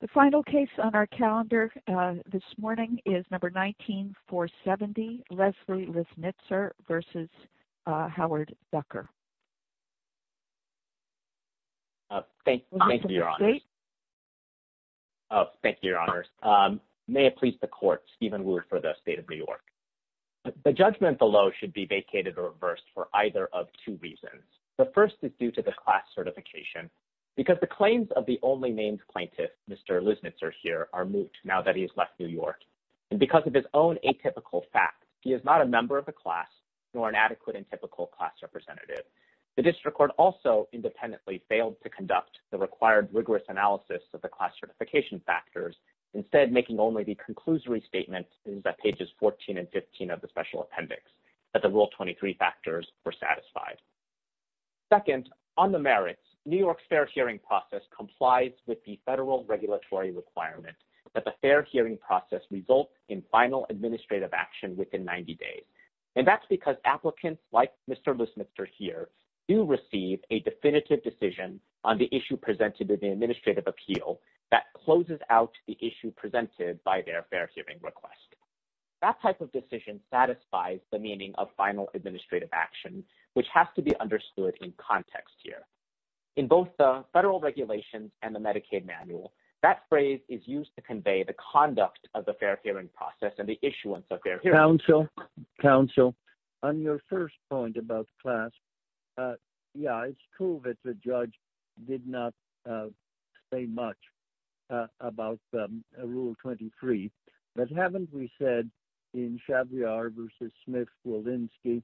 The final case on our calendar this morning is number 197470, Leslie Lisnitzer v. Howard Zucker. Thank you, your honor. May it please the court, Stephen Wood for the state of New York. The judgment below should be vacated or reversed for either of two reasons. The first is due to class certification because the claims of the only named plaintiff, Mr. Lisnitzer here, are moot now that he has left New York. And because of his own atypical fact, he is not a member of the class nor an adequate and typical class representative. The district court also independently failed to conduct the required rigorous analysis of the class certification factors, instead making only the conclusory statements in pages 14 and 15 of Special Appendix that the Rule 23 factors were satisfied. Second, on the merits, New York's fair hearing process complies with the federal regulatory requirement that the fair hearing process result in final administrative action within 90 days. And that's because applicants like Mr. Lisnitzer here do receive a definitive decision on the issue presented in the administrative appeal that closes out the issue presented by their fair hearing request. That type of decision satisfies the meaning of final administrative action, which has to be understood in context here. In both the federal regulations and the Medicaid manual, that phrase is used to convey the conduct of the fair hearing process and the issuance of their counsel. Counsel, on your first point about class, yeah, it's true that the judge did not say much about Rule 23, but haven't we said in Chabriar v. Smith-Walensky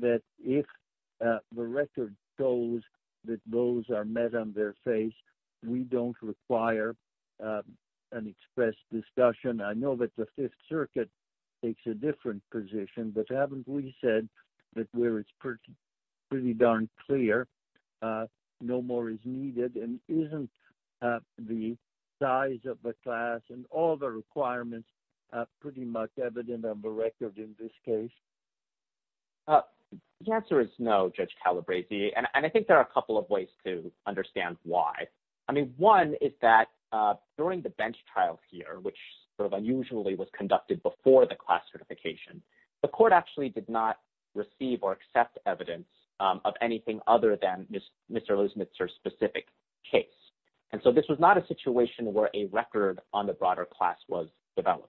that if the record shows that those are met on their face, we don't require an express discussion? I know that the Fifth Circuit takes a different position, but haven't we said that where it's pretty darn clear, no more is needed, and isn't the size of the class and all the requirements pretty much evident on the record in this case? The answer is no, Judge Calabresi, and I think there are a couple of ways to understand why. I mean, one is that during the bench trial here, which sort of unusually was conducted before the class certification, the court actually did not receive or accept evidence of anything other than Mr. Lismitzer's specific case, and so this was not a situation where a record on the broader class was developed.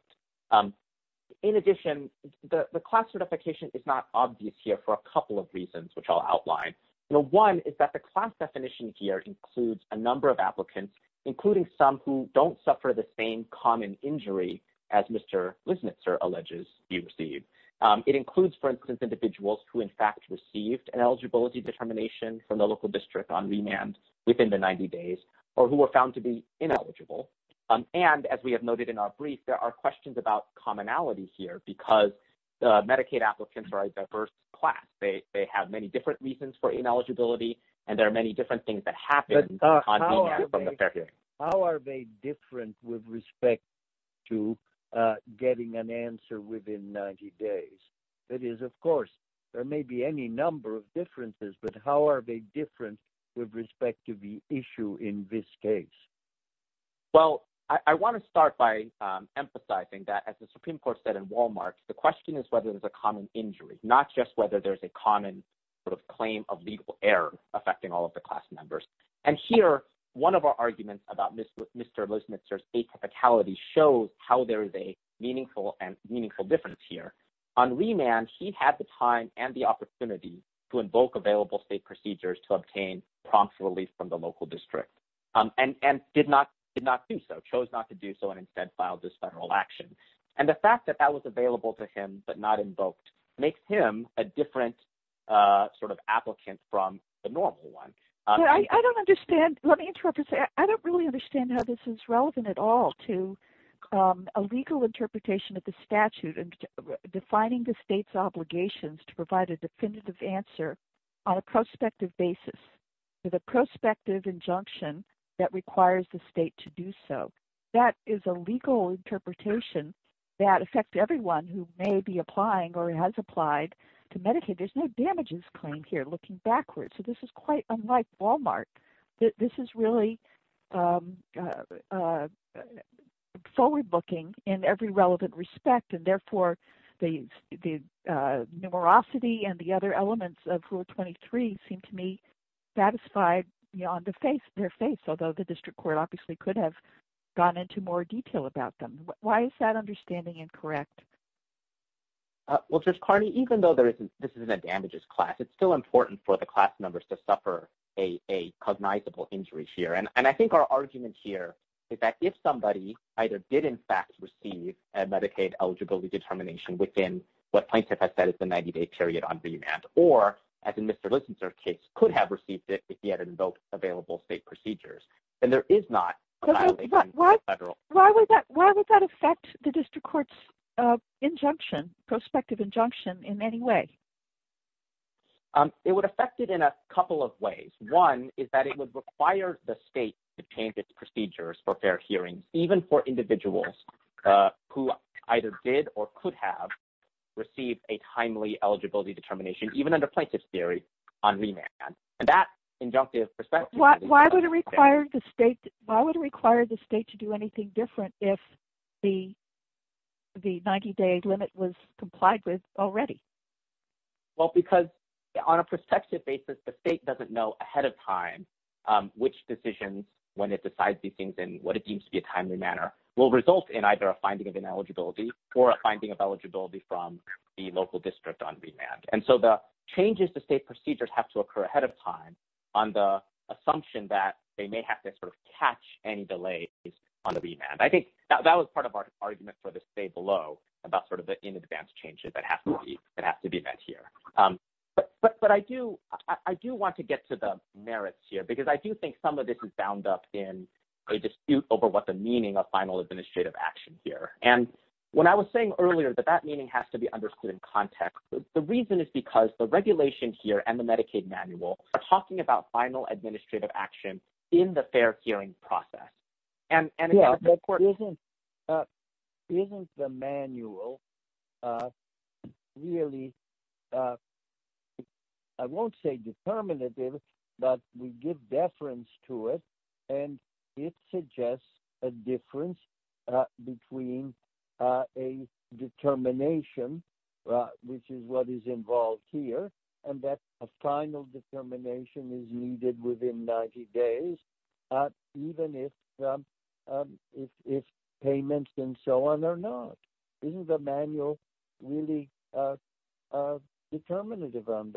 In addition, the class certification is not obvious here for a couple of reasons, which I'll outline. One is that the class definition here includes a number of applicants, including some who don't suffer the same common injury as Mr. Lismitzer alleges he received. It includes, for instance, individuals who in fact received an eligibility determination from the local district on remand within the 90 days, or who were found to be ineligible, and as we have noted in our brief, there are questions about commonality here, because Medicaid applicants are a diverse class. They have many different reasons for ineligibility, and there are many different things that happen on remand from the fair case. How are they different with respect to getting an answer within 90 days? That is, of course, there may be any number of differences, but how are they different with respect to the issue in this case? Well, I want to start by emphasizing that, as the Supreme Court said in Walmart, the question is whether there's a common injury, not just whether there's a common claim of legal error affecting all of the class members. Here, one of our arguments about Mr. Lismitzer's state typicality shows how there is a meaningful and meaningful difference here. On remand, he had the time and the opportunity to invoke available state procedures to obtain prompt relief from the local district, and did not do so, chose not to do so, and instead filed this federal action. The fact that that was available to him, but not invoked, makes him a different sort of applicant from the normal one. I don't understand. Let me interrupt and say, I don't really understand how this is relevant at all to a legal interpretation of the statute and defining the state's obligations to provide a definitive answer on a prospective basis, to the prospective injunction that requires the state to That is a legal interpretation that affects everyone who may be applying or has applied to Medicaid. There's no damages claim here, looking backwards. This is quite unlike Walmart. This is really forward-looking in every relevant respect, and therefore, the numerosity and the other elements of Rule 23 seem to me satisfied beyond their faith, although the district court obviously could have gone into more detail about them. Why is that understanding incorrect? Well, Judge Carney, even though this isn't a damages class, it's still important for the class members to suffer a cognizable injury here. And I think our argument here is that if somebody either did, in fact, receive a Medicaid eligibility determination within what plaintiff has said is the 90-day period on remand, or as in Mr. Case, could have received it if he had invoked available state procedures, then there is not a violation. Why would that affect the district court's injunction, prospective injunction in any way? It would affect it in a couple of ways. One is that it would require the state to change its procedures for fair hearing, even for individuals who either did or could have received a timely eligibility determination, even under plaintiff's on remand. And that injunctive perspective... Why would it require the state to do anything different if the 90-day limit was complied with already? Well, because on a prospective basis, the state doesn't know ahead of time which decision, when it decides these things in what it deems to be a timely manner, will result in either a finding of ineligibility or a finding from the local district on remand. And so the changes to state procedures have to occur ahead of time on the assumption that they may have to sort of catch any delays on the remand. I think that was part of our argument for the state below about sort of the in-advance changes that have to be met here. But I do want to get to the merits here, because I do think some of this is bound up in a dispute over what the meaning of final administrative action here. And when I was earlier, that that meaning has to be understood in context. The reason is because the regulation here and the Medicaid manual are talking about final administrative action in the fair hearing process. And... Yeah, isn't the manual really... I won't say determinative, but we give deference to it, and it suggests a difference between a determination, which is what is involved here, and that a final determination is needed within 90 days, even if payments and so on are not. Isn't the manual really determinative on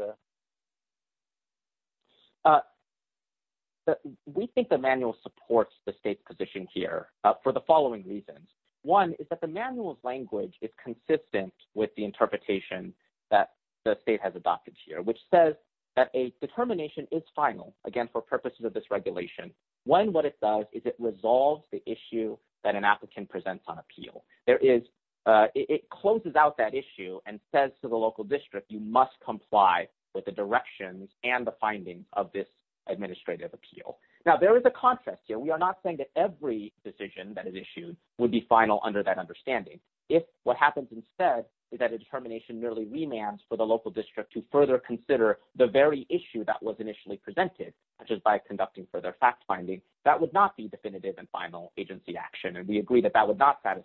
this? We think the manual supports the state's position here for the following reasons. One is that the manual's language is consistent with the interpretation that the state has adopted here, which says that a determination is final, again, for purposes of this regulation. One, it resolves the issue that an applicant presents on appeal. It closes out that issue and says to the local district, you must comply with the directions and the findings of this administrative appeal. Now, there is a contrast here. We are not saying that every decision that is issued would be final under that understanding. If what happens instead is that a determination merely remands for the local district to further consider the very issue that was initially presented, such as by conducting further fact-finding, that would not be definitive and final agency action, and we agree that that would not end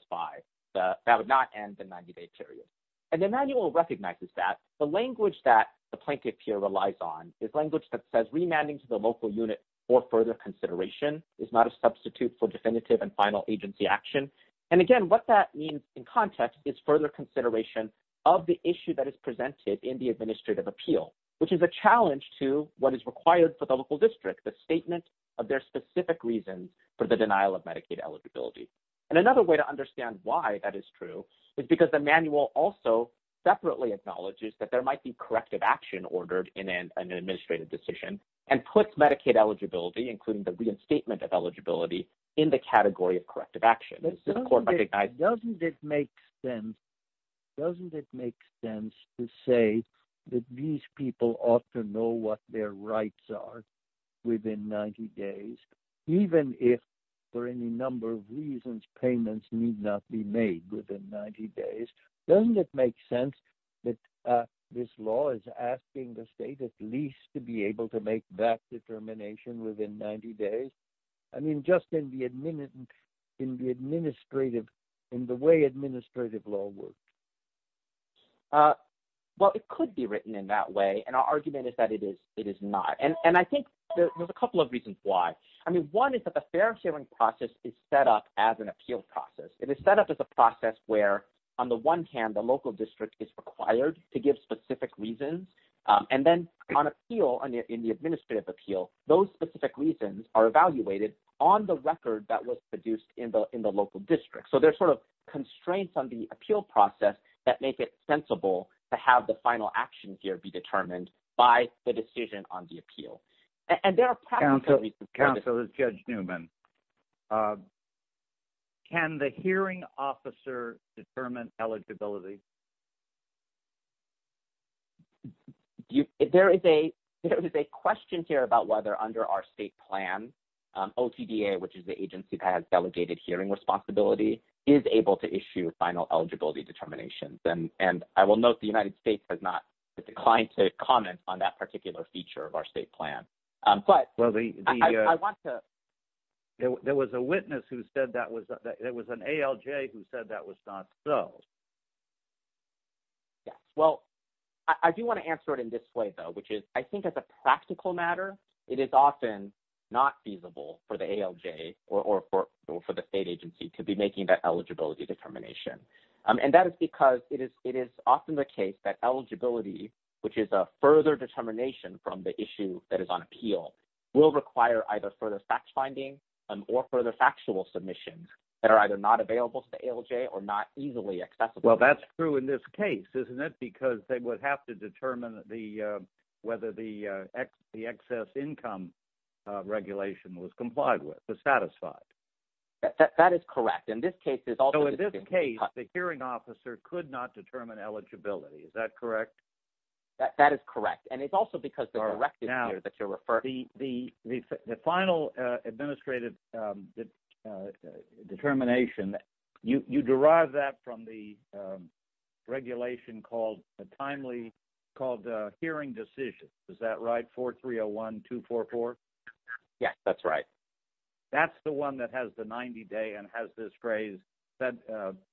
the 90-day period. The manual recognizes that. The language that the plaintiff here relies on is language that says remanding to the local unit for further consideration is not a substitute for definitive and final agency action. Again, what that means in context is further consideration of the issue that is presented in the local district, the statement of their specific reasons for the denial of Medicaid eligibility. Another way to understand why that is true is because the manual also separately acknowledges that there might be corrective action ordered in an administrative decision and puts Medicaid eligibility, including the reinstatement of eligibility, in the category of corrective action. Doesn't it make sense to say that these people ought to know what their rights are within 90 days, even if, for any number of reasons, payments need not be made within 90 days? Doesn't it make sense that this law is asking the state at least to be able to make that in the way administrative law works? Well, it could be written in that way, and our argument is that it is not. I think there's a couple of reasons why. One is that the fair sharing process is set up as an appeal process. It is set up as a process where, on the one hand, the local district is required to give specific reasons, and then on appeal, in the administrative appeal, those specific reasons are evaluated on the record that was district. So, there are sort of constraints on the appeal process that make it sensible to have the final action here be determined by the decision on the appeal. Counselor, this is Judge Newman. Can the hearing officer determine eligibility? There is a question here about whether, under our state plan, OTDA, which is the agency that has delegated hearing responsibility, is able to issue final eligibility determinations. I will note the United States has not declined to comment on that particular feature of our state plan. There was an ALJ who said that was not so. Well, I do want to answer it in this way, though, which is, I think, as a practical matter, it is often not feasible for the ALJ or for the state agency to be making that eligibility determination. That is because it is often the case that eligibility, which is a further determination from the issue that is on appeal, will require either further fact-finding or further factual submissions that are either not available to the ALJ or not easily accessible. Well, that is true in this case, isn't it, because they would have to determine whether the excess income regulation was complied with, was satisfied. That is correct. In this case, the hearing officer could not determine eligibility. Is that correct? That is correct. It is also because of the directive here that you are referring to. The final administrative determination, you derive that from the timely hearing decision. Is that right? 4301-244? Yes, that is right. That is the one that has the 90-day and has this phrase,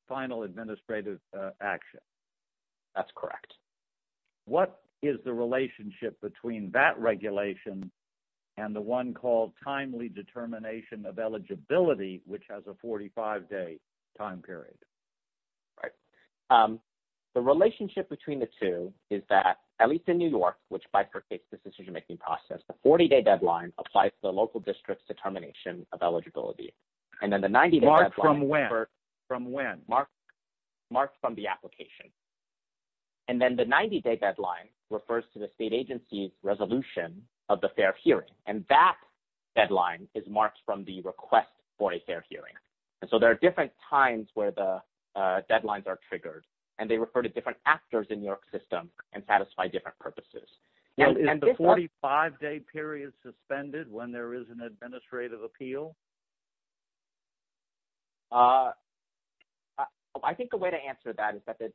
final administrative action. That is correct. What is the relationship between that regulation and the one called determination of eligibility, which has a 45-day time period? The relationship between the two is that, at least in New York, which bifurcates the decision-making process, the 40-day deadline applies to the local district's determination of eligibility. Marked from when? Marked from the application. Then the 90-day deadline refers to the state agency's resolution of the fair hearing. That deadline is marked from the request for a fair hearing. There are different times where the deadlines are triggered. They refer to different actors in the New York system and satisfy different purposes. Is the 45-day period suspended when there is an administrative appeal? I think the way to answer that is that the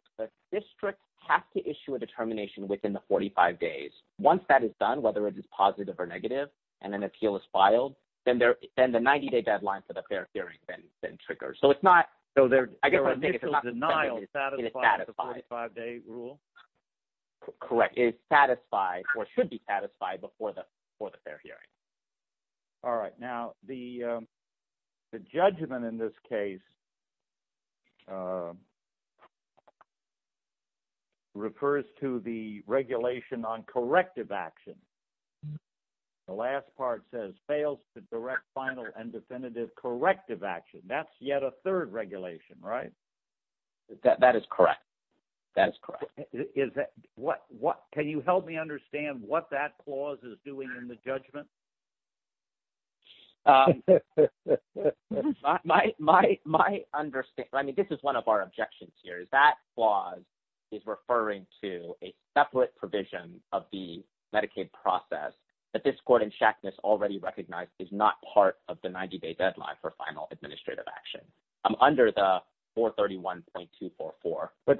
district has to issue a determination within the 45 days. Once that is done, whether it is positive or negative, and an appeal is filed, then the 90-day deadline for the fair hearing is triggered. Initial denial is satisfied with the 45-day rule? Correct. It is satisfied or should be satisfied before the fair hearing. All right. Now, the judgment in this case refers to the regulation on corrective action. The last part says fails to direct final and definitive corrective action. That is yet a third regulation, right? That is correct. That is correct. Is that – can you help me understand what that clause is doing in the judgment? My understanding – this is one of our objections here. That clause is referring to a separate provision of the Medicaid process that this court in Shackness already recognized is not part of the 90-day deadline for final administrative action. Under the 431.244.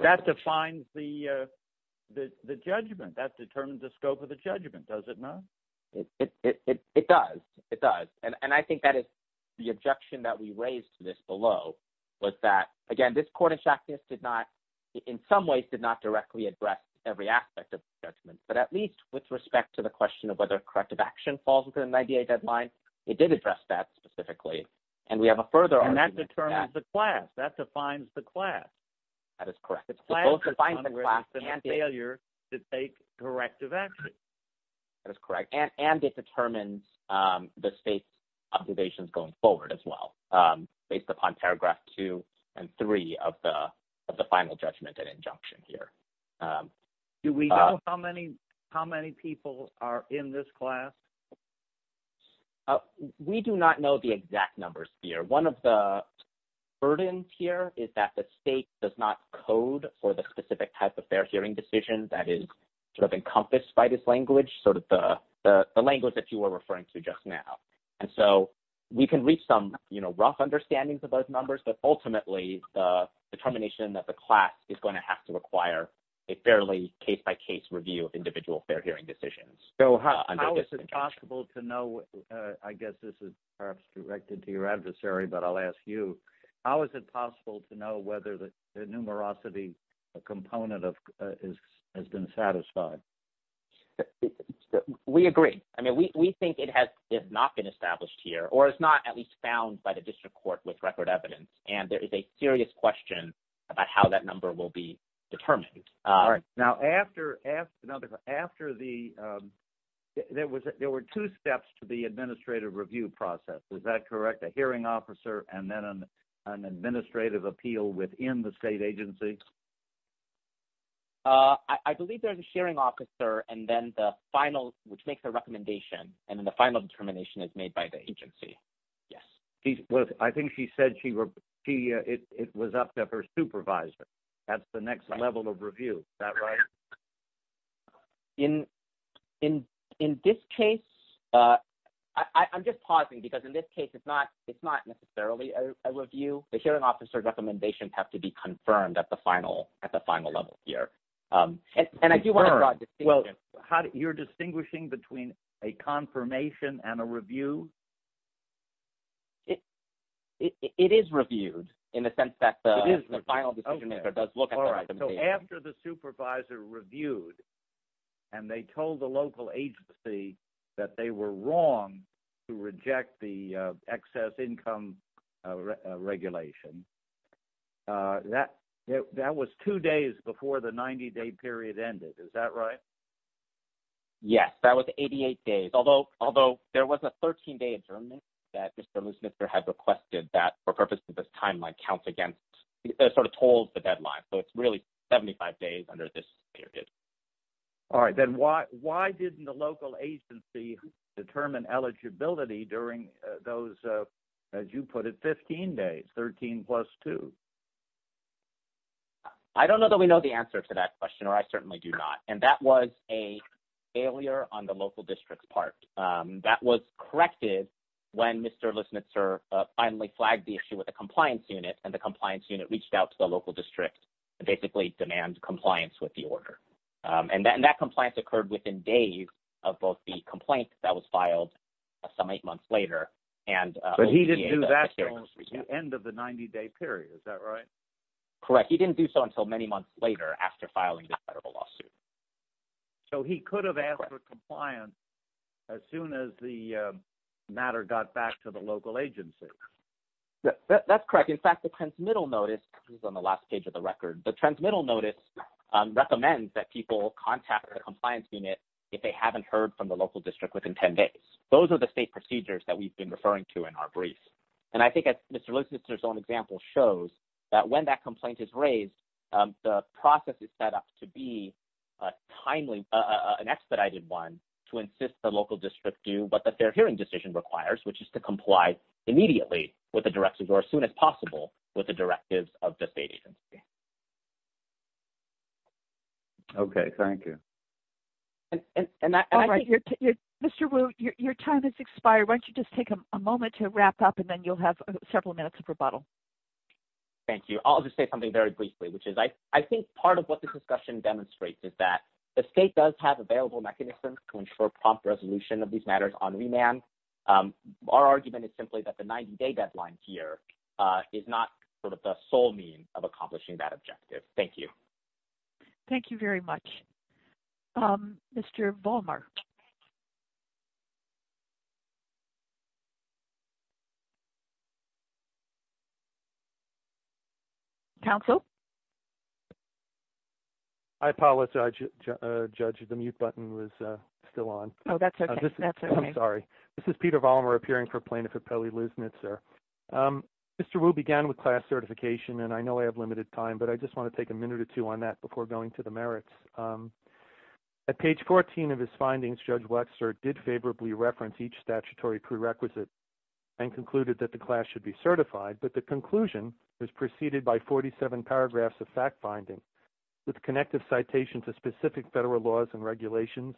That defines the – the judgment. That determines the scope of the judgment, does it not? It does. It does. And I think that is the objection that we raised to this below, was that, again, this court in Shackness did not – in some ways did not directly address every aspect of the judgment. But at least with respect to the question of whether corrective action falls within the 90-day deadline, it did address that specifically. And we have a further argument – And that determines the class. That defines the class. That is correct. And it determines the state's observations going forward as well, based upon paragraph two and three of the final judgment and injunction here. Do we know how many – how many people are in this class? Well, we do not know the exact numbers here. One of the burdens here is that the state does not code for the specific type of fair hearing decision that is sort of encompassed by this language, sort of the language that you were referring to just now. And so we can reach some, you know, rough understandings of those numbers, but ultimately, the determination of the class is going to have to require a fairly case-by-case review with individual fair hearing decisions. How is it possible to know – I guess this is perhaps directed to your adversary, but I'll ask you. How is it possible to know whether the numerosity component has been satisfied? We agree. I mean, we think it has not been established here, or it's not at least found by the district court with record evidence. And there is a serious question about how that number will be determined. Now, after the – there were two steps to the administrative review process. Is that correct? A hearing officer and then an administrative appeal within the state agency? I believe there's a sharing officer, and then the final – which makes a recommendation, and then the final determination is made by the agency. Yes. I think she said she – it was up to her supervisor. That's the next level of review. Is that right? In this case – I'm just pausing, because in this case, it's not necessarily a review. The hearing officer's recommendations have to be confirmed at the final level here. And I do want to draw a distinction. You're distinguishing between a confirmation and a review? It is reviewed, in the sense that the final decision does look at the recommendation. After the supervisor reviewed, and they told the local agency that they were wrong to reject the excess income regulation, that was two days before the 90-day period ended. Is that right? Yes. That was 88 days. Although, there was a 13-day adjournment that Mr. Loosmither had requested that, for purposes of this timeline, counts against – sort of told the deadline. So, it's really 75 days under this period. All right. Then why didn't the local agency determine eligibility during those, as you put it, 15 days, 13 plus two? I don't know that we know the answer to that question, or I certainly do not. And that was a failure on the local district's part. That was corrected when Mr. Loosmither finally flagged the issue with the compliance unit, and the compliance unit reached out to the local district and basically demanded compliance with the order. And that compliance occurred within days of both the complaint that was filed some eight months later and – But he didn't do that until the end of the 90-day period. Is that right? Correct. He didn't do so until many months later, after filing the federal lawsuit. So, he could have asked for compliance as soon as the matter got back to the local agency. That's correct. In fact, the transmittal notice – this is on the last page of the record – the transmittal notice recommends that people contact the compliance unit if they haven't heard from the local district within 10 days. Those are the state procedures that we've been referring to in our brief. And I think, as Mr. Loosmither's own example shows, that when that complaint is raised, the process is set up to be a timely – what the fair hearing decision requires, which is to comply immediately with the directives or as soon as possible with the directives of the state agency. Okay. Thank you. Mr. Wu, your time has expired. Why don't you just take a moment to wrap up, and then you'll have several minutes of rebuttal. Thank you. I'll just say something very briefly, which is I think part of what this discussion demonstrates is that the state does have available mechanisms to ensure prompt resolution of these matters on remand. Our argument is simply that the 90-day deadline here is not sort of the sole means of accomplishing that objective. Thank you. Thank you very much. Mr. Ballmark. Counsel? Hi, Paula. Judge, the mute button was still on. Oh, that's okay. That's okay. Sorry. This is Peter Ballmark, appearing for Plaintiff Repelli Loosmith, sir. Mr. Wu began with class certification, and I know I have limited time, but I just want to take a minute or two on that before going to the merits. At page 14 of his findings, Judge Wexler did favorably reference each statutory prerequisite and concluded that the class should be certified, but the conclusion was preceded by 47 paragraphs of fact-binding with connective citations of specific federal laws and regulations,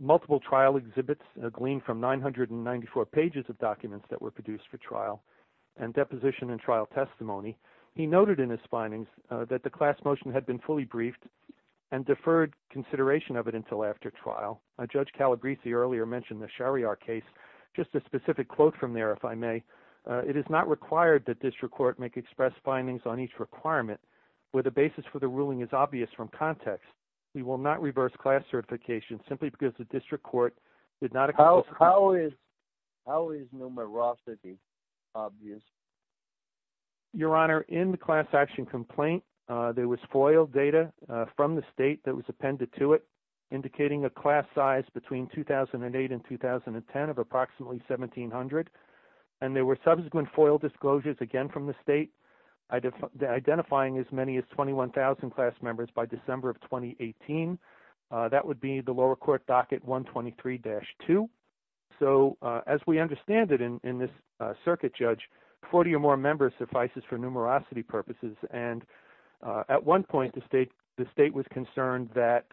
multiple trial exhibits gleaned from 994 pages of documents that were produced for trial, and deposition and trial testimony. He noted in his findings that the class motion had been fully briefed and deferred consideration of it until after trial. Judge Calabresi earlier mentioned the Shariar case. Just a specific quote from there, if I may. It is not required that district court make express findings on each requirement where the basis for the ruling is obvious from context. We will not reverse class certification simply because the district court did not... How is numerosity obvious? Your Honor, in the class action complaint, there was FOIL data from the state that was appended to it, indicating a class size between 2008 and 2010 of approximately 1700, and there were subsequent FOIL disclosures again from the state identifying as many as 21,000 class members by December of 2018. That would be the lower court docket 123-2. As we understand it in this circuit, Judge, 40 or more members suffices for numerosity purposes. At one point, the state was concerned that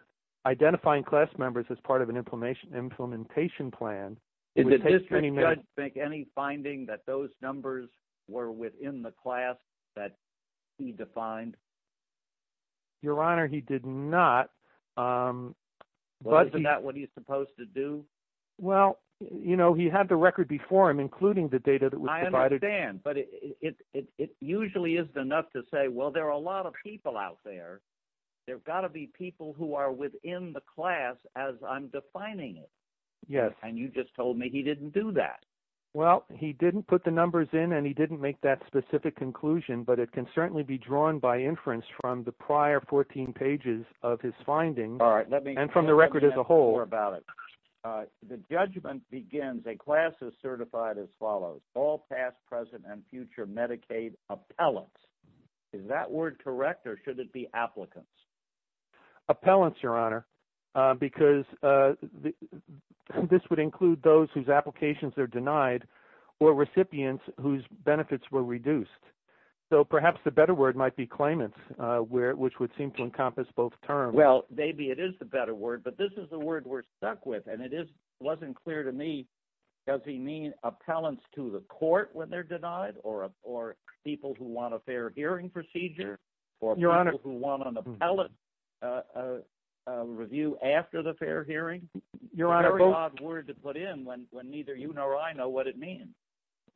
identifying class members as part of an implementation plan... Did the district judge make any finding that those numbers were to do? Well, he had the record before him, including the data that was provided. I understand, but it usually isn't enough to say, well, there are a lot of people out there. There have got to be people who are within the class as I'm defining it. Yes. And you just told me he didn't do that. Well, he didn't put the numbers in and he didn't make that specific conclusion, but it can certainly be drawn by inference from the prior 14 pages of his findings and from the record as a whole. The judgment begins, a class is certified as follows, all past, present, and future Medicaid appellants. Is that word correct or should it be applicants? Appellants, Your Honor, because this would include those whose applications are denied or recipients whose benefits were reduced. So perhaps the better word might be claimants, which would seem to encompass both terms. Well, maybe it is the better word, but this is the word we're stuck with. And it wasn't clear to me, does he mean appellants to the court when they're denied or people who want a fair hearing procedure or people who want an appellate review after the fair hearing? Very odd word to put in when neither you nor I know what it means.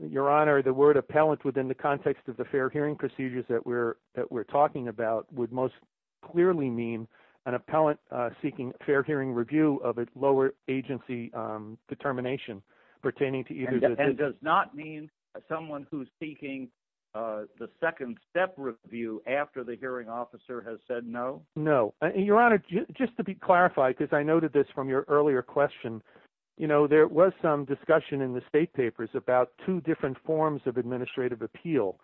Your Honor, the word would most clearly mean an appellant seeking a fair hearing review of its lower agency determination pertaining to either. And does not mean someone who's seeking the second step review after the hearing officer has said no? No. Your Honor, just to be clarified, because I noted this from your earlier question, there was some discussion in the state papers about two different forms of administrative appeal.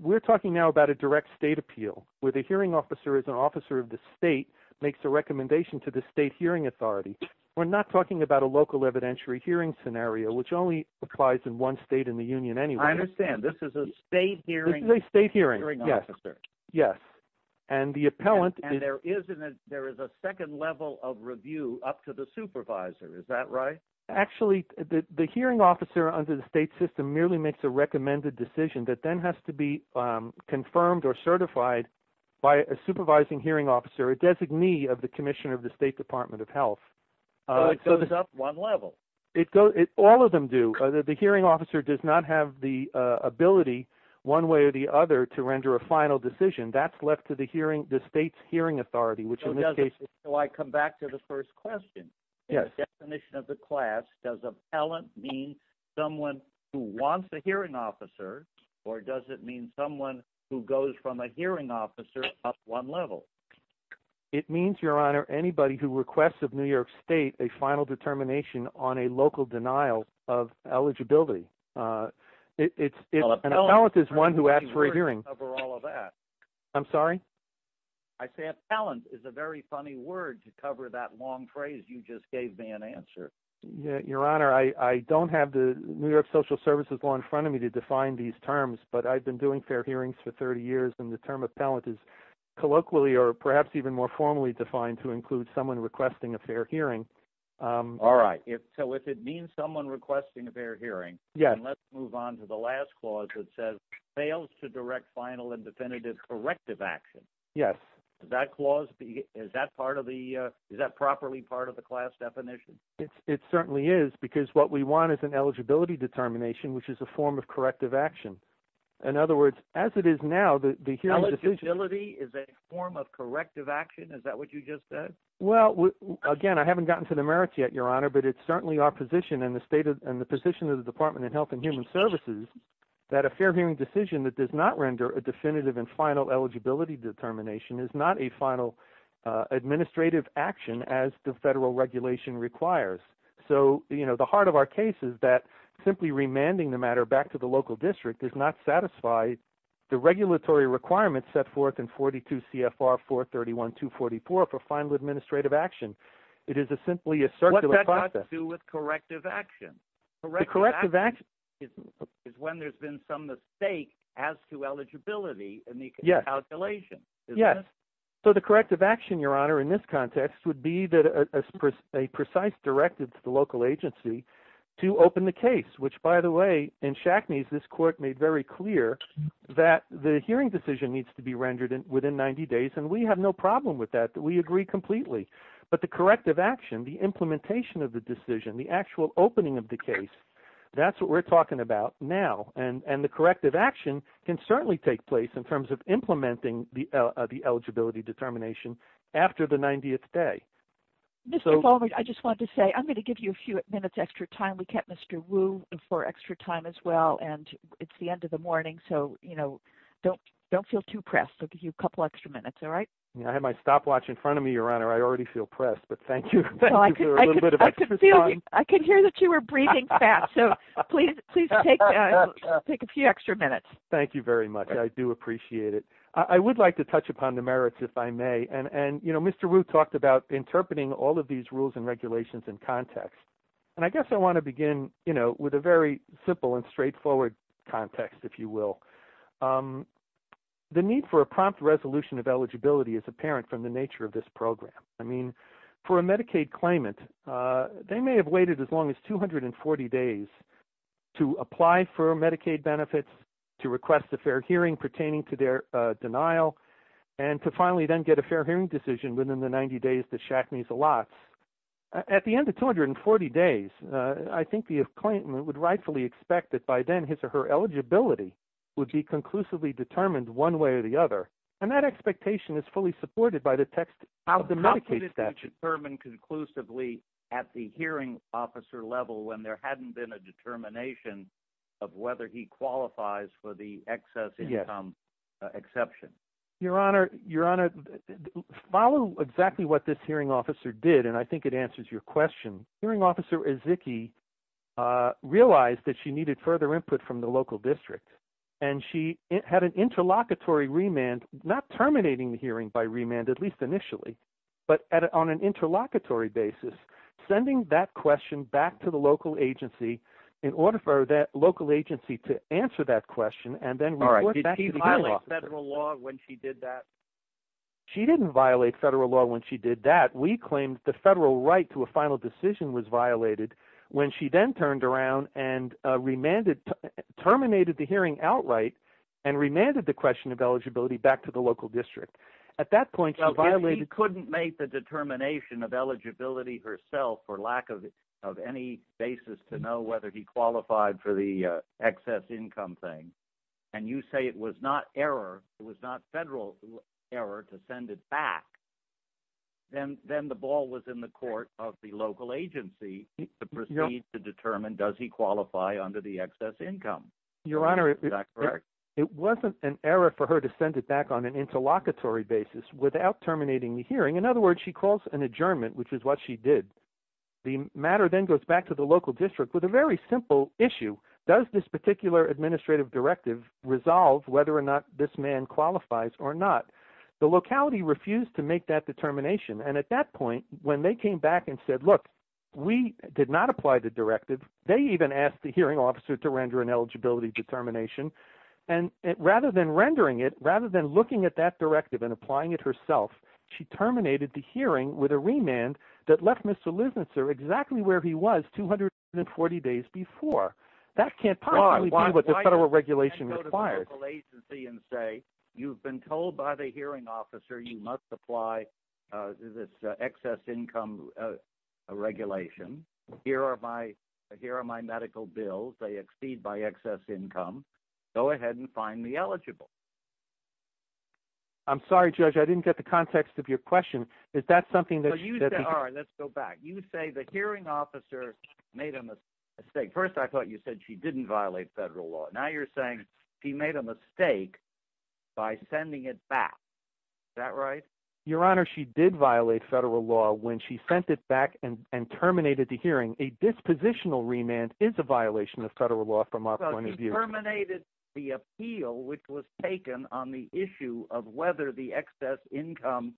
We're talking now about a direct state appeal where the hearing officer is an officer of the state, makes a recommendation to the state hearing authority. We're not talking about a local evidentiary hearing scenario, which only applies in one state in the union anyway. I understand. This is a state hearing. Yes. And the appellant. And there is a second level of review up to the supervisor. Is that right? Actually, the hearing officer under the state system merely makes a recommended decision that then has to be confirmed or certified by a supervising hearing officer, a designee of the commission of the State Department of Health. It goes up one level. It goes, all of them do. The hearing officer does not have the ability one way or the other to render a final decision. That's left to the hearing, the state's hearing authority, which in this case. So I come back to the first question. Yes. Definition of the class does appellant mean someone who wants a hearing officer or does it mean someone who goes from a hearing officer at one level? It means, Your Honor, anybody who requests of New York State a final determination on a local denial of eligibility. It's an appellant is one who asks for a hearing. I'm sorry. I say appellant is a very funny word to cover that long phrase. You just gave me an answer. Your Honor, I don't have the New York Social Services law in front of me to define these terms, but I've been doing fair hearings for 30 years and the term appellant is colloquially or perhaps even more formally defined to include someone requesting a fair hearing. All right. So if it means someone requesting a fair hearing. Yeah. Let's move on to the last clause that says fails to direct final and definitive corrective action. Yes, that clause. Is that part of the is that properly part of the class definition? It certainly is, because what we want is an eligibility determination, which is a form of corrective action. In other words, as it is now, the eligibility is a form of corrective action. Is that what you just said? Well, again, I haven't gotten to the merit yet, Your Honor, but it's certainly our position in the state and the position of the Department of Health and Human that a fair hearing decision that does not render a definitive and final eligibility determination is not a final administrative action as the federal regulation requires. So the heart of our case is that simply remanding the matter back to the local district does not satisfy the regulatory requirements set forth in 42 CFR 431-244 for final administrative action. It is simply a circular process. What does that have to do with corrective action? Corrective action is when there's been some mistake as to eligibility in the calculation. Yes. So the corrective action, Your Honor, in this context would be that a precise directive to the local agency to open the case, which, by the way, in Shackney's, this court made very clear that the hearing decision needs to be rendered within 90 days. And we have no problem with that. We agree completely. But the corrective action, the implementation of the decision, the actual opening of the case, that's what we're talking about now. And the corrective action can certainly take place in terms of implementing the eligibility determination after the 90th day. I just want to say I'm going to give you a few minutes extra time. We kept Mr. Wu for extra time as well. And it's the end of the morning. So, you know, don't feel too pressed. I'll give you a couple extra minutes. All right. I have my stopwatch in front of me, Your Honor. I already feel pressed. But thank you. I can hear that you were breathing fast. So please take a few extra minutes. Thank you very much. I do appreciate it. I would like to touch upon the merits, if I may. And, you know, Mr. Wu talked about interpreting all of these rules and regulations in context. And I guess I want to begin, you know, with a very simple and straightforward context, if you will. The need for a prompt resolution of eligibility is apparent from the nature of this program. I mean, for a Medicaid claimant, they may have waited as long as 240 days to apply for Medicaid benefits, to request a fair hearing pertaining to their denial, and to finally then get a fair hearing decision within the 90 days that Shaq needs a lot. At the end of 240 days, I think the claimant would rightfully expect that by then his or her eligibility would be conclusively determined one way or the other. And that expectation is fully supported by the text of the Medicaid statute. How could it be determined conclusively at the hearing officer level when there hadn't been a determination of whether he qualifies for the excess income exception? Your Honor, follow exactly what this hearing officer did. And I think it answers your question. Hearing officer Ezeki realized that she needed further input from the local district. And she had an interlocutory remand, not terminating the hearing by remand, at least initially, but on an interlocutory basis, sending that question back to the local agency in order for that local agency to answer that question. And then... All right. Did she violate federal law when she did that? She didn't violate federal law when she did that. We claimed the federal right to a final decision was violated when she then turned around and terminated the hearing outright and remanded the question of eligibility back to the local district. At that point, she violated... He couldn't make the determination of eligibility herself for lack of any basis to know whether he had an error to send it back. Then the ball was in the court of the local agency to proceed to determine, does he qualify under the excess income? Your Honor, it wasn't an error for her to send it back on an interlocutory basis without terminating the hearing. In other words, she calls an adjournment, which is what she did. The matter then goes back to the local district with a very simple issue. Does this particular administrative directive resolve whether or not this man qualifies or not? The locality refused to make that determination. And at that point, when they came back and said, look, we did not apply the directive, they even asked the hearing officer to render an eligibility determination. And rather than rendering it, rather than looking at that directive and applying it herself, she terminated the hearing with a remand that left Mr. Lissitzer exactly where he was 240 days before. That can't possibly be what the federal regulation requires. Why go to the local agency and say, you've been told by the hearing officer you must apply this excess income regulation. Here are my medical bills. They exceed by excess income. Go ahead and find me eligible. I'm sorry, Judge, I didn't get the context of your question. Is that something that you said? You say the hearing officer made a mistake. First, I thought you said she didn't violate federal law. Now you're saying she made a mistake by sending it back. Is that right? Your Honor, she did violate federal law when she sent it back and terminated the hearing. A dispositional remand is a violation of federal law from our point of view. She terminated the appeal, which was taken on the issue of whether the excess income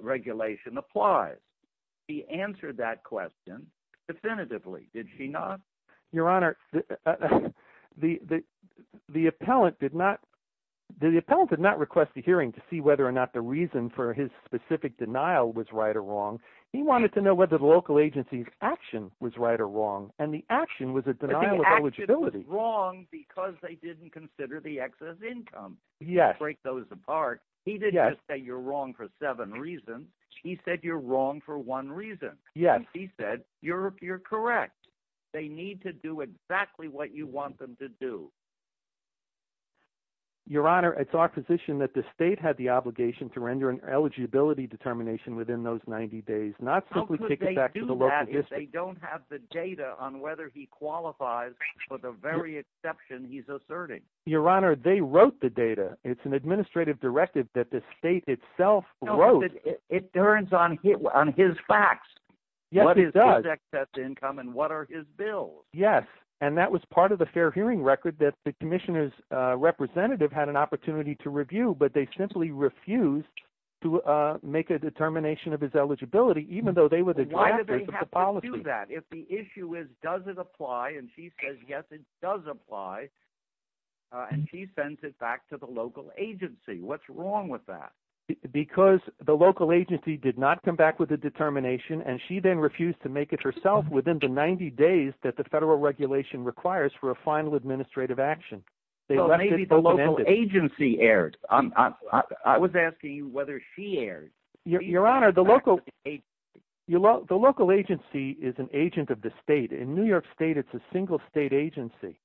regulation applies. She answered that question definitively, did she not? Your Honor, the appellant did not request a hearing to see whether or not the reason for his specific denial was right or wrong. He wanted to know whether the local agency's action was right or wrong, and the action was a denial of eligibility. The action was wrong because they didn't consider the excess income to break those apart. He didn't say you're wrong for seven reasons. He said you're wrong for one reason. Yes. He said you're correct. They need to do exactly what you want them to do. Your Honor, it's our position that the state had the obligation to render an eligibility determination within those 90 days, not simply take it back to the local history. How could they do that if they don't have the data on whether he qualifies for the very exception he's asserting? Your Honor, they wrote the data. It's an administrative directive that the state itself wrote. No, but it turns on his facts. Yes, it does. What is his excess income, and what are his bills? Yes, and that was part of the fair hearing record that the commissioner's representative had an opportunity to review, but they simply refused to make a determination of his eligibility, even though they were the directors of the policy. Why did they have to do that? If the issue is does it apply, and she says yes, it does apply, and she sends it back to the local agency, what's wrong with that? Because the local agency did not come back with a determination, and she then refused to make it herself within the 90 days that the federal regulation requires for a final administrative action. So maybe the local agency erred. I was asking you whether she erred. Your Honor, the local agency is an agent of the state. In New York State, it's a single state agency,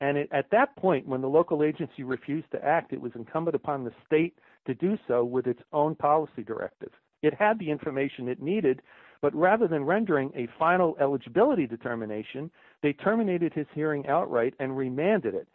and at that point, when the local agency refused to act, it was incumbent upon the state to do so with its own policy directive. It had the information it needed, but rather than rendering a final eligibility determination, they terminated his hearing outright and remanded it.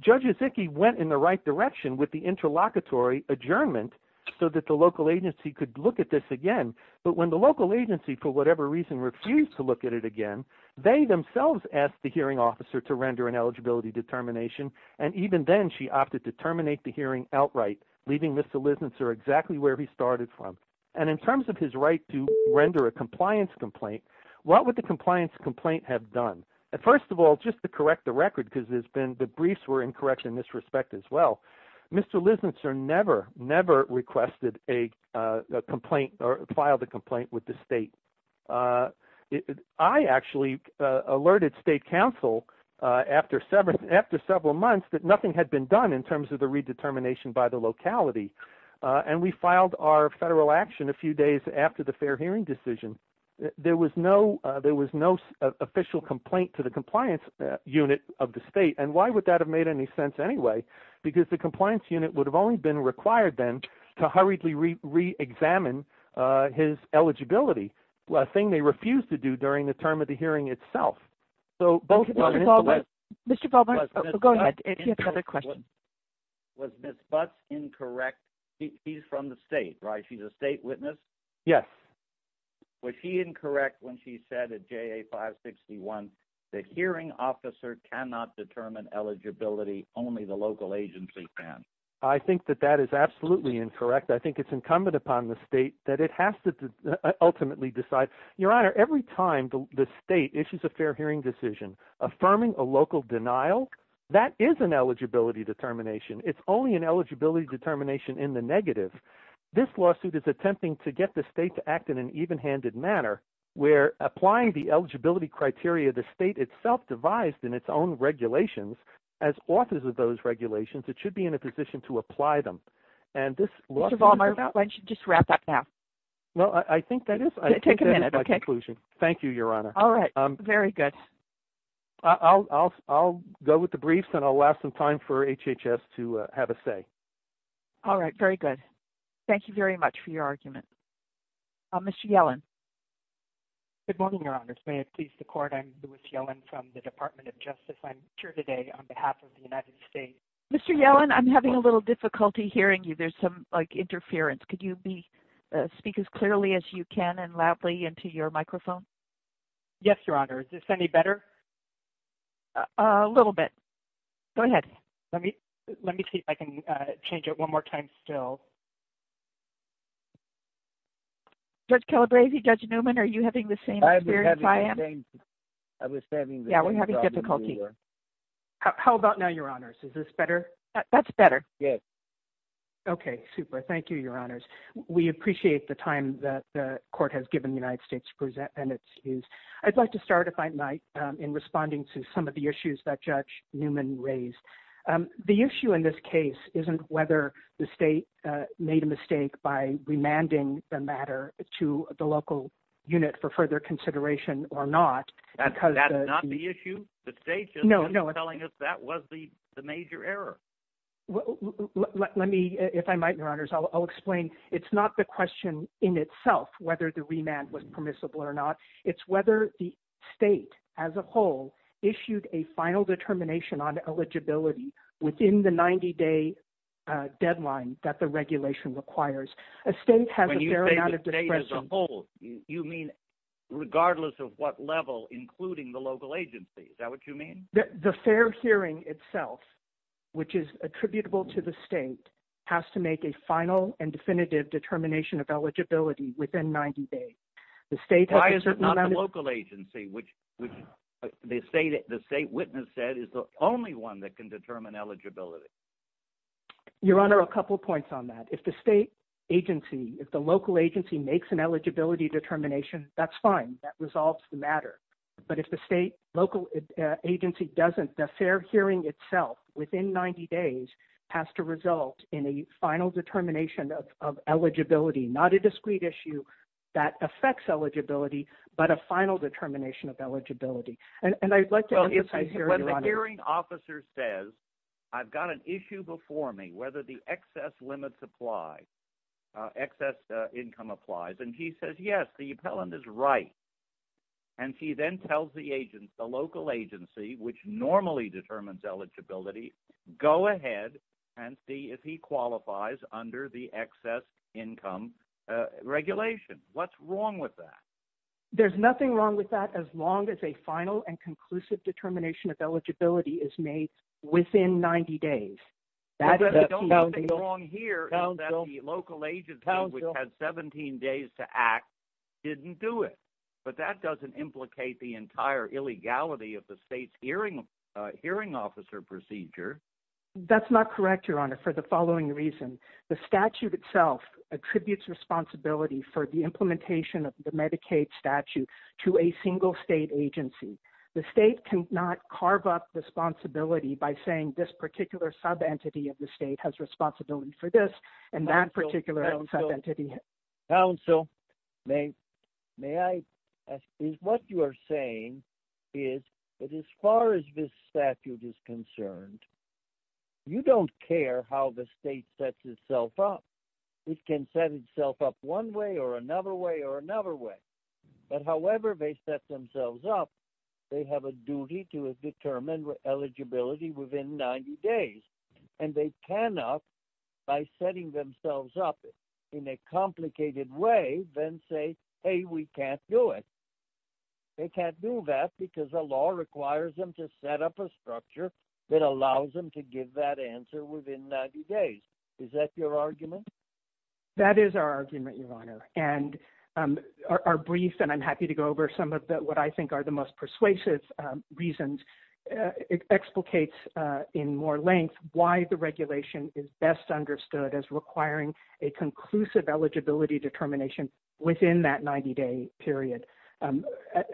Judge Zickey went in the right direction with the interlocutory adjournment so that the local agency could look at this again, but when the local agency, for whatever reason, refused to look at it again, they themselves asked the hearing officer to render an eligibility determination, and even then, she opted to terminate the hearing outright, leaving Mr. Lisnitzer exactly where he started from. And in terms of his right to render a compliance complaint, what would the compliance complaint have done? First of all, just to correct the record, because the briefs were incorrect in this respect as well, Mr. Lisnitzer never, never requested a complaint or filed a complaint with the state. I actually alerted state council after several months that nothing had been done in terms of the redetermination by the locality, and we filed our federal action a few days after the fair hearing decision. There was no official complaint to the compliance unit of the state, and why would that have made any sense anyway? Because the compliance unit would have only been required then to hurriedly reexamine his eligibility, a thing they refused to do during the term of the hearing itself. So, both were in the way- Mr. Baldwin, go ahead, if you have another question. Was Ms. Butts incorrect? She's from the state, right? She's a state witness? Yes. Was she incorrect when she said at JA 561, the hearing officer cannot determine eligibility, only the local agency can? I think that that is absolutely incorrect. I think it's incumbent upon the state that it has to ultimately decide. Your Honor, every time the state issues a fair hearing decision, affirming a local denial, that is an eligibility determination. It's only an eligibility determination in the negative. This lawsuit is attempting to get the state to act in an even-handed manner, where applying the eligibility criteria the state itself devised in its own regulations, as authors of those regulations, it should be in a position to apply them. And this- Mr. Baldwin, why don't you just wrap that up? Well, I think that is- Take a minute, okay? Thank you, Your Honor. All right, very good. I'll go with the briefs and I'll last some time for HHS to have a say. All right, very good. Thank you very much for your argument. Mr. Yellen. Good morning, Your Honor. May it please the Court, I'm Louis Yellen from the Department of Justice. I'm here today on behalf of the United States. Mr. Yellen, I'm having a little difficulty hearing you. There's some, like, interference. Could you speak as clearly as you can and loudly into your microphone? Yes, Your Honor. Is this any better? A little bit. Go ahead. Let me see if I can change it one more time still. Judge Calabresi, Judge Newman, are you having the same experience I am? I was saying- Yeah, we're having difficulty. How about now, Your Honor? Is this better? That's better. Yes. Okay, super. Thank you, Your Honors. We appreciate the time that the Court has given the United States and its views. I'd like to start, if I might, in responding to some of the issues that Judge Newman raised. The issue in this case isn't whether the state made a mistake by remanding the matter to the local unit for further consideration or not because- That's not the issue. The state is telling us that was the major error. Let me, if I might, Your Honors, I'll explain. It's not the question in itself whether the remand was permissible or not. It's whether the state as a whole issued a final determination on eligibility within the 90-day deadline that the regulation requires. A state has a fair amount of discretion- When you say the state as a whole, you mean regardless of what level, including the local agency. Is that what you mean? The fair hearing itself, which is attributable to the state, has to make a final and definitive determination of eligibility within 90 days. The state- Why is it not the local agency, which the state witness said is the only one that can determine eligibility? Your Honor, a couple points on that. If the state agency, if the local agency makes an eligibility determination, that's fine. That resolves the matter. If the state, local agency doesn't, the fair hearing itself within 90 days has to result in a final determination of eligibility, not a discrete issue that affects eligibility, but a final determination of eligibility. I'd like to emphasize- When the hearing officer says, I've got an issue before me, whether the excess limits apply, excess income applies, and he says, yes, the appellant is right, and he then tells the agent, the local agency, which normally determines eligibility, go ahead and see if he qualifies under the excess income regulation. What's wrong with that? There's nothing wrong with that as long as a final and conclusive determination of eligibility is made within 90 days. That is a key- The only thing wrong here is that the local agency, which has 17 days to act, didn't do it. But that doesn't implicate the entire illegality of the state's hearing officer procedure. That's not correct, Your Honor, for the following reason. The statute itself attributes responsibility for the implementation of the Medicaid statute to a single state agency. The state cannot carve up the responsibility by saying this particular sub-entity of the state has responsibility for this, and that particular sub-entity- Counsel, may I- What you are saying is that as far as this statute is concerned, you don't care how the state sets itself up. It can set itself up one way or another way or another way. But however they set themselves up, they have a duty to determine eligibility within 90 days. Then say, hey, we can't do it. They can't do that because the law requires them to set up a structure that allows them to give that answer within 90 days. Is that your argument? That is our argument, Your Honor. And our brief, and I'm happy to go over some of what I think are the most persuasive reasons, it explicates in more length why the regulation is best understood as requiring a conclusive eligibility determination within that 90-day period.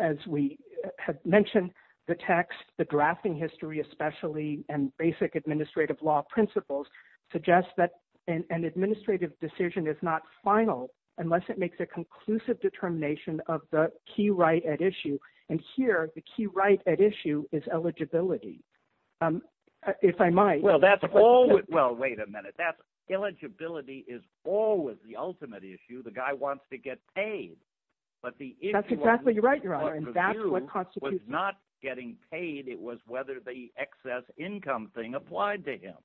As we have mentioned, the text, the drafting history, especially, and basic administrative law principles suggest that an administrative decision is not final unless it makes a conclusive determination of the key right at issue. And here, the key right at issue is eligibility. If I might- Well, wait a minute. That eligibility is always the ultimate issue. The guy wants to get paid. But the issue- That's exactly right, Your Honor. And that's what constitutes- Was not getting paid. It was whether the excess income thing applied to him.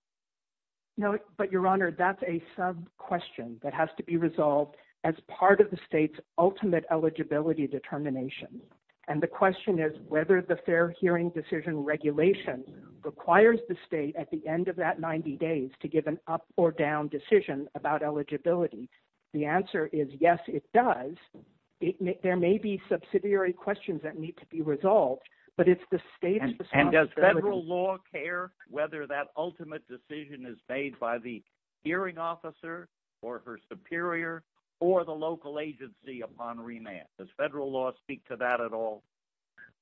No, but Your Honor, that's a sub-question that has to be resolved as part of the state's ultimate eligibility determination. And the question is whether the fair hearing decision regulation requires the state at the end of that 90 days to give an up or down decision about eligibility. The answer is, yes, it does. There may be subsidiary questions that need to be resolved, but it's the state's responsibility. And does federal law care whether that ultimate decision is made by the hearing officer or her superior or the local agency upon renounce? Does federal law speak to that at all?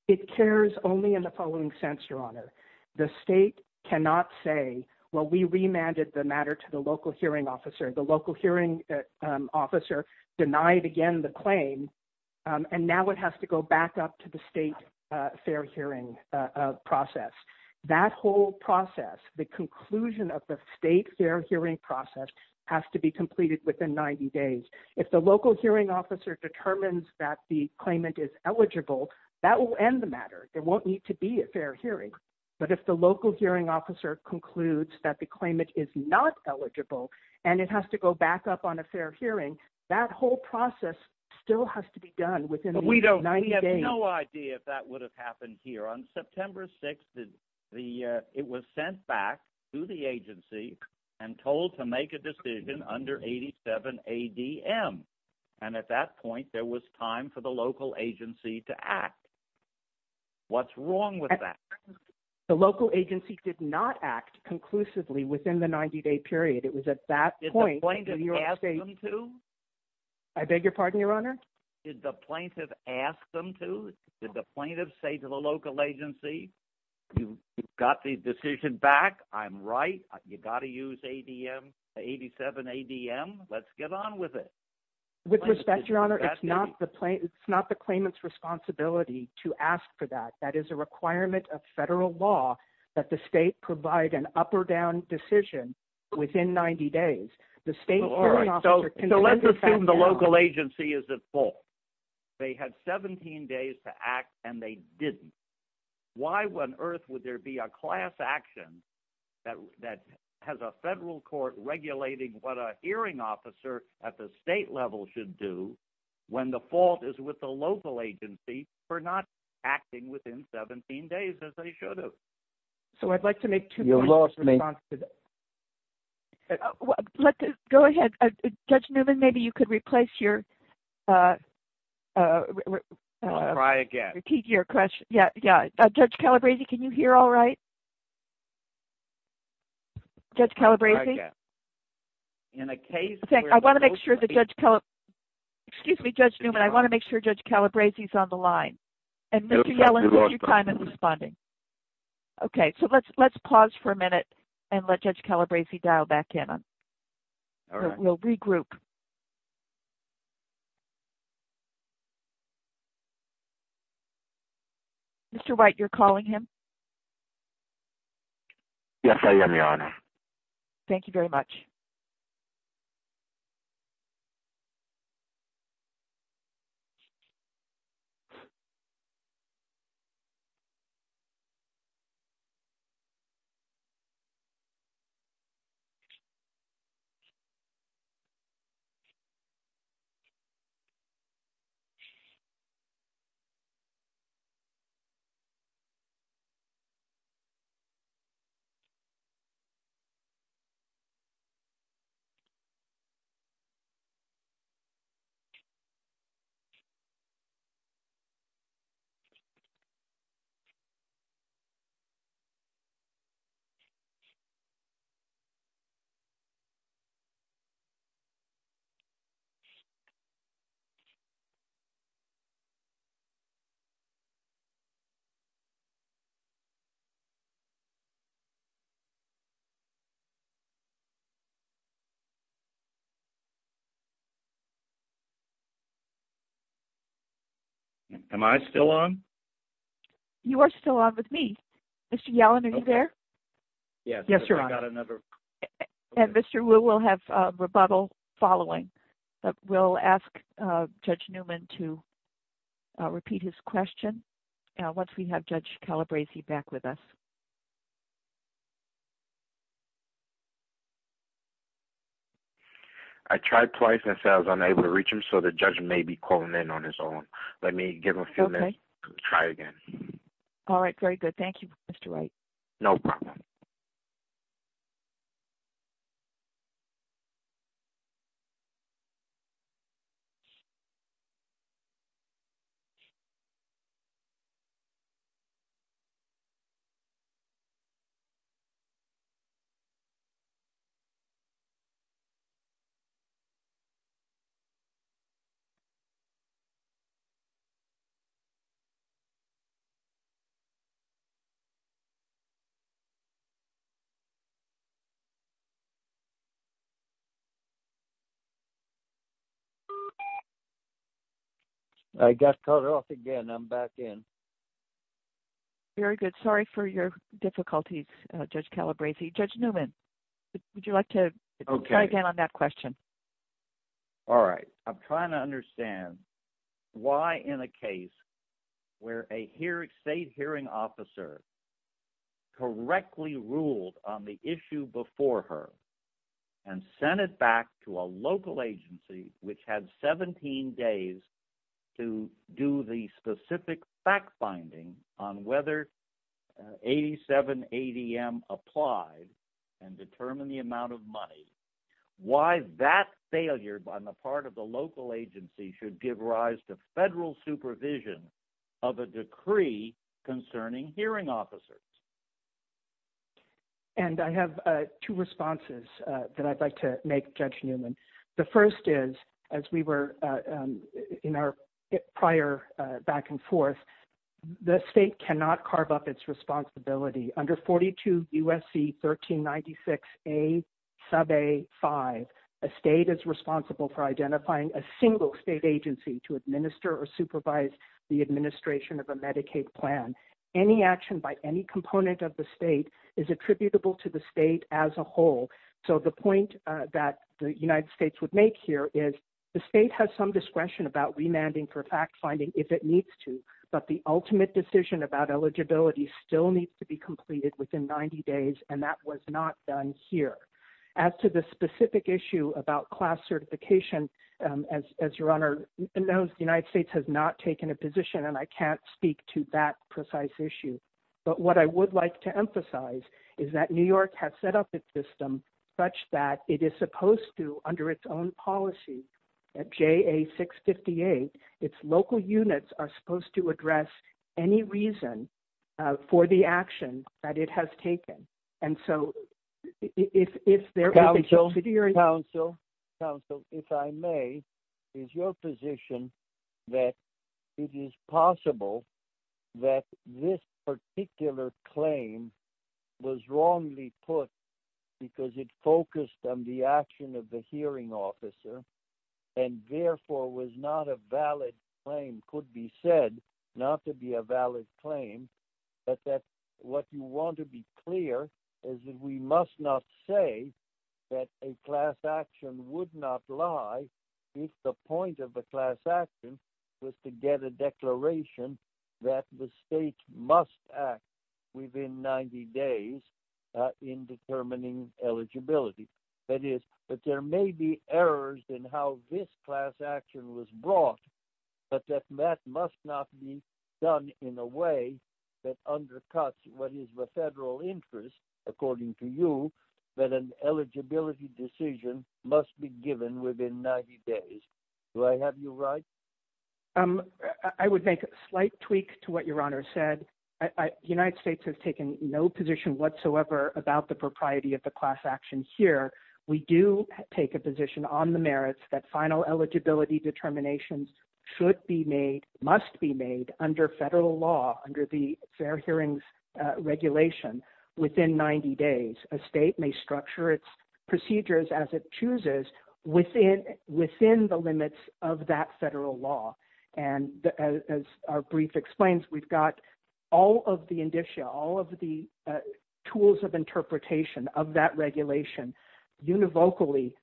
It cares only in the following sense, Your Honor. The state cannot say, well, we remanded the matter to the local hearing officer. The local hearing officer denied again the claim. And now it has to go back up to the state fair hearing process. That whole process, the conclusion of the state fair hearing process has to be completed within 90 days. If the local hearing officer determines that the claimant is eligible, that will end the matter. It won't need to be a fair hearing. But if the local hearing officer concludes that the claimant is not eligible and it has to go back up on a fair hearing, that whole process still has to be done within 90 days. We have no idea if that would have happened here. On September 6th, it was sent back to the agency and told to make a decision under 87 ADM. And at that point, there was time for the local agency to act. What's wrong with that? The local agency did not act conclusively within the 90-day period. It was at that point. I beg your pardon, Your Honor. Did the plaintiff ask them to? Did the plaintiff say to the local agency, you got the decision back. I'm right. You got to use ADM, 87 ADM. Let's get on with it. With respect, Your Honor, it's not the claimant's responsibility to ask for that. It's a requirement of federal law that the state provide an up or down decision within 90 days. Let's assume the local agency is at fault. They had 17 days to act and they didn't. Why on earth would there be a class action that has a federal court regulating what a hearing officer at the state level should do when the fault is with the local agency for not acting within 17 days as they should have? So, I'd like to make two points in response to that. Go ahead. Judge Newman, maybe you could replace your... Try again. ...repeat your question. Yeah, yeah. Judge Calabresi, can you hear all right? Judge Calabresi? In a case where... I want to make sure that Judge Calab... Excuse me, Judge Newman. I want to make sure Judge Calabresi is on the line. And Mr. Yellen, would you mind responding? Okay. So, let's pause for a minute and let Judge Calabresi dial back in. All right. We'll regroup. Mr. White, you're calling him? Yes, I am, Your Honor. Thank you very much. Am I still on? You are still on with me. Mr. Yellen, are you there? Yes, Your Honor. Yeah, I got another... And Mr. Wu will have rebuttal following. But we'll ask Judge Newman to repeat his question once we have Judge Calabresi back with us. I tried twice and said I was unable to reach him, so the judge may be calling in on his own. Let me give him a few minutes to try again. All right. Very good. Thank you, Mr. White. No problem. I got cut off again. I'm back in. Very good. Sorry for your difficulties, Judge Calabresi. Judge Newman, would you like to try again on that question? All right. I'm trying to understand why, in a case where a state hearing officer correctly ruled on the issue before her and sent it back to a local agency, which had 17 days to do the specific fact-finding on whether 87 ADM applied and determine the amount of money, why that failure on the part of the local agency should give rise to federal supervision of a decree concerning hearing officers? And I have two responses that I'd like to make, Judge Newman. The first is, as we were in our prior back and forth, the state cannot carve up its responsibility. Under 42 U.S.C. 1396a sub a 5, a state is responsible for identifying a single state agency to administer or supervise the administration of a Medicaid plan. Any action by any component of the state is attributable to the state as a whole. So the point that the United States would make here is, the state has some discretion about remanding for fact-finding if it needs to, but the ultimate decision about eligibility still needs to be completed within 90 days, and that was not done here. As to the specific issue about class certification, as your Honor knows, the United States has not taken a position, and I can't speak to that precise issue. But what I would like to emphasize is that New York has set up a system such that it is supposed to, under its own policy, at JA-658, its local units are supposed to address any reason for the action that it has taken. And so, if there is a- Counsel, counsel, counsel, if I may, is your position that it is possible that this particular claim was wrongly put because it focused on the action of the hearing officer, and therefore was not a valid claim, could be said not to be a valid claim, but that what you want to be clear is that we must not say that a class action would not lie if the point of a class action was to get a declaration that the state must act within 90 days in determining eligibility? That is, that there may be errors in how this class action was brought, but that that must not be done in a way that undercuts what is the federal interest, according to you, that an eligibility decision must be given within 90 days. Do I have you right? I would make a slight tweak to what your Honor said. United States has taken no position whatsoever about the propriety of the class action here. We do take a position on the merits that final eligibility determinations should be made, must be made, under federal law, under the Fair Hearings Regulation, within 90 days. A state may structure its procedures as it chooses within the limits of that federal law. And as our brief explains, we've got all of the tools of interpretation of that regulation univocally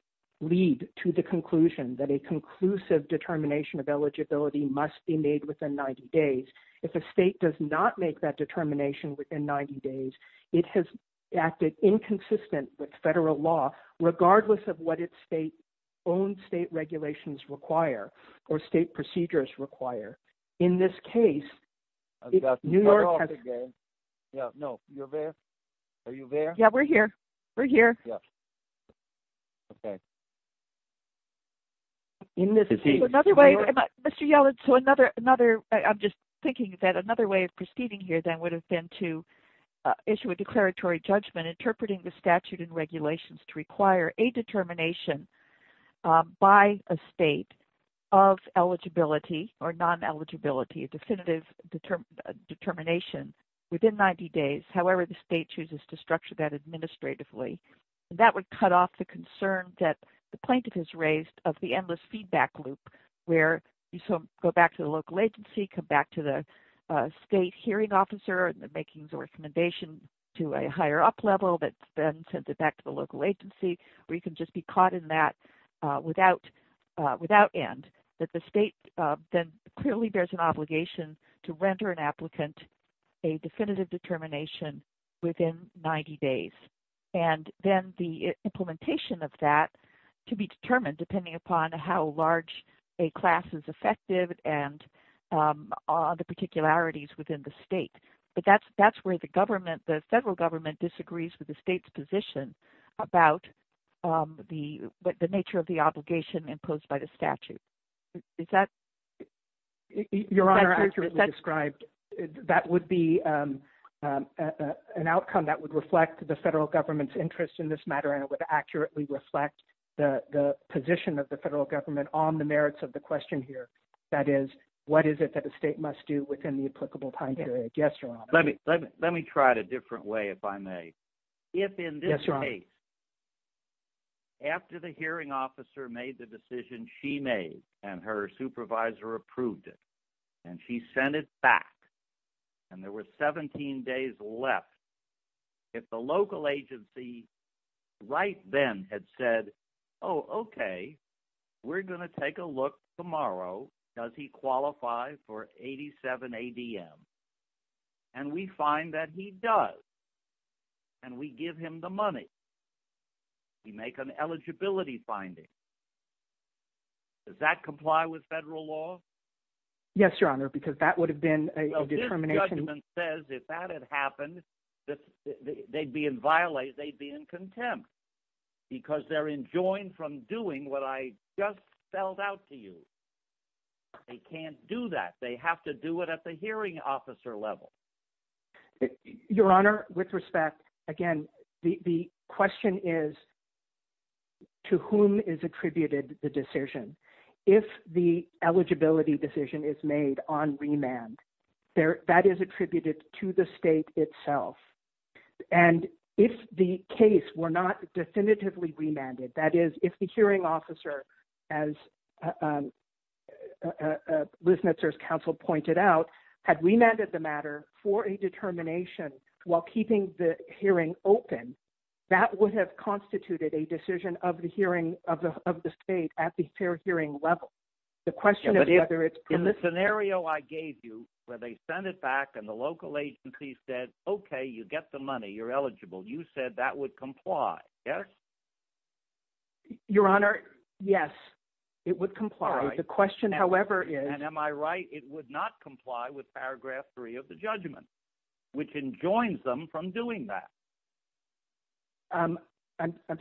lead to the conclusion that a conclusive determination of eligibility must be made within 90 days. If a state does not make that determination within 90 days, it has acted inconsistent with federal law, regardless of what its own state regulations require or state procedures require. In this case, New York has... I've got to turn it off again. Yeah, no. You're there? Are you there? Yeah, we're here. We're here. Yes. Okay. In this case... Another way, Mr. Yellin, so another, I'm just thinking that another way of proceeding here then would have been to issue a declaratory judgment interpreting the statute and regulations to require a determination by a state of eligibility or non-eligibility, a definitive determination within 90 days. However, the state chooses to structure that administratively. That would cut off the concern that the plaintiff has raised of the endless feedback loop, where you go back to the local agency, come back to the state hearing officer, and they're making the recommendation to a higher up level that then sends it back to the local agency, or you can just be caught in that without end. But the state then clearly bears an obligation to render an applicant a definitive determination within 90 days. And then the implementation of that can be determined depending upon how large a class is effective and all the particularities within the state. But that's where the government, the federal government disagrees with the state's position about the nature of the obligation imposed by the statute. Is that... Your Honor, that would be an outcome that would reflect the federal government's interest in this matter, and it would accurately reflect the position of the federal government on the merits of the question here. That is, what is it that the state must do within the applicable time period? Yes, Your Honor. Let me try it a different way, if I may. If in this case, after the hearing officer made the decision she made, and her supervisor approved it, and she sent it back, and there were 17 days left, if the local agency right then had said, oh, okay, we're gonna take a look tomorrow, does he qualify for 87 ADM, and we find that he does, and we give him the money, we make an eligibility finding, does that comply with federal law? Yes, Your Honor, because that would have been a determination... Well, this judgment says if that had happened, they'd be in contempt, because they're enjoined from doing what I just spelled out to you. They can't do that. They have to do it at the hearing officer level. Your Honor, with respect, again, the question is, to whom is attributed the decision? If the eligibility decision is made on remand, that is attributed to the state itself. And if the case were not definitively remanded, that is, if the hearing officer, as counsel pointed out, had remanded the matter for a determination while keeping the hearing open, that would have constituted a decision of the hearing of the state at the fair hearing level. In the scenario I gave you, where they sent it back, and the local agency said, okay, you get the money, you're eligible, you said that would comply, yes? Your Honor, yes, it would comply. The question, however, is... And am I right? It would not comply with Paragraph 3 of the judgment, which enjoins them from doing that. I'm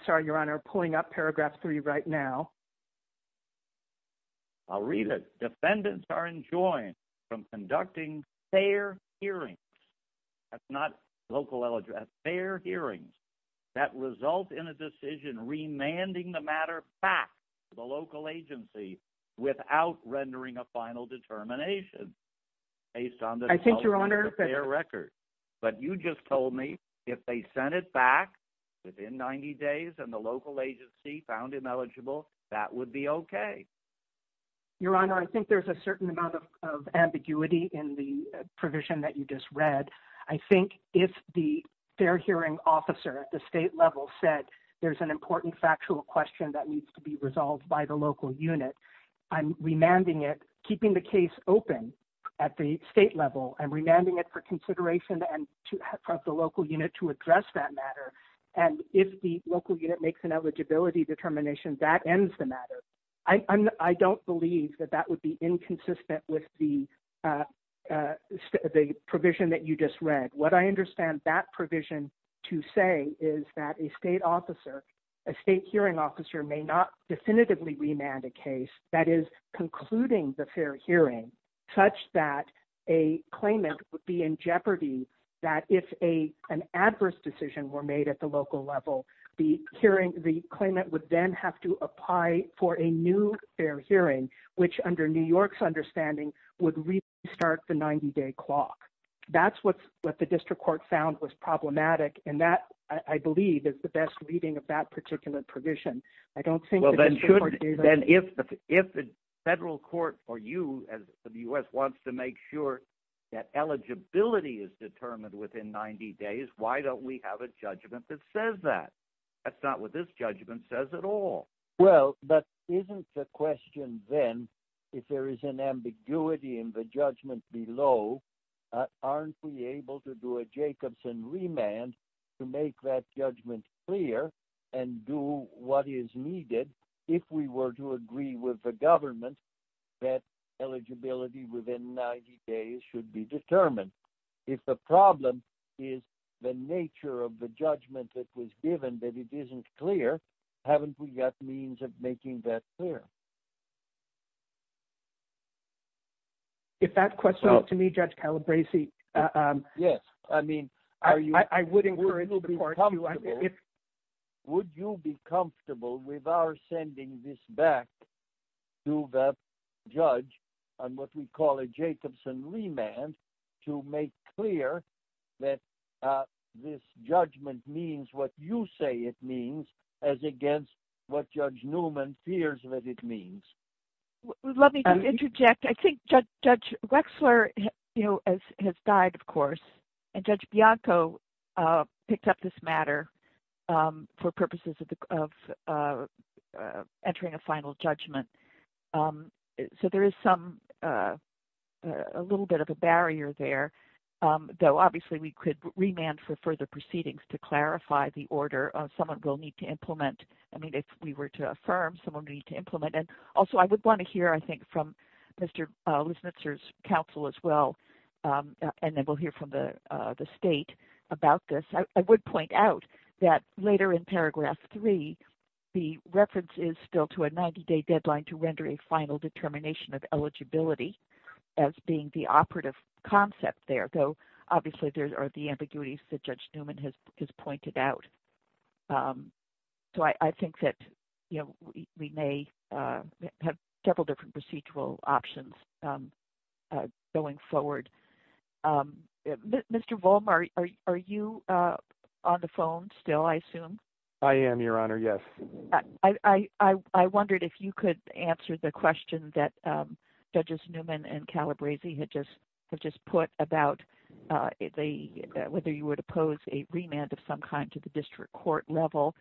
sorry, Your Honor, pulling up Paragraph 3 right now. I'll read it. Defendants are enjoined from conducting fair hearings, that's not local eligibility, fair hearings that result in a decision remanding the matter back to the local agency without rendering a final determination based on the fair record. But you just told me if they sent it back within 90 days and the local agency found him eligible, that would be okay. Your Honor, I think there's a certain amount of ambiguity in the provision that you just read. I think if the fair hearing officer at the state level said there's an important factual question that needs to be resolved by the local unit, I'm remanding it, keeping the case open at the state level, and remanding it for consideration of the local unit to address that matter. And if the local unit makes an eligibility determination, that ends the matter. I don't believe that that would be inconsistent with the provision that you just read. What I understand that provision to say is that a state hearing officer may not definitively remand a case that is concluding the fair hearing, such that a claimant would be in jeopardy that if an adverse decision were made at the local level, the claimant would have to apply for a new fair hearing, which under New York's understanding, would restart the 90-day clock. That's what the district court found was problematic, and that, I believe, is the best reading of that particular provision. I don't think the district court gave a... Well, then if the federal court for you, as the U.S., wants to make sure that eligibility is determined within 90 days, why don't we have a judgment that says that? That's not what this judgment says at all. Well, but isn't the question then, if there is an ambiguity in the judgment below, aren't we able to do a Jacobson remand to make that judgment clear and do what is needed if we were to agree with the government that eligibility within 90 days should be determined? If the problem is the nature of the judgment that was given, that it isn't clear, haven't we got means of making that clear? If that question is to me, Judge Calabresi... Yes, I mean, are you... I would encourage... Would you be comfortable with our sending this back to the judge on what we call a Jacobson remand to make clear that this judgment means what you say it means as against what Judge Newman fears that it means? Let me interject. I think Judge Wexler has died, of course, and Judge Bianco picked up this matter for purposes of entering a final judgment. So there is a little bit of a barrier there, though, obviously, we could remand for further proceedings to clarify the order of someone will need to implement. I mean, if we were to affirm, someone would need to implement it. Also, I would want to hear, I think, from Mr. Luznitser's counsel as well, and then we'll hear from the state about this. I would point out that later in paragraph three, the reference is still to a 90-day deadline to render a final determination of eligibility as being the operative concept there, though, obviously, there are the ambiguities that Judge Newman has pointed out. So I think that we may have several different procedural options going forward. Mr. Volmer, are you on the phone still, I assume? I am, Your Honor, yes. I wondered if you could answer the question that Judges Newman and Calabresi had just put about whether you would oppose a remand of some kind to the district court level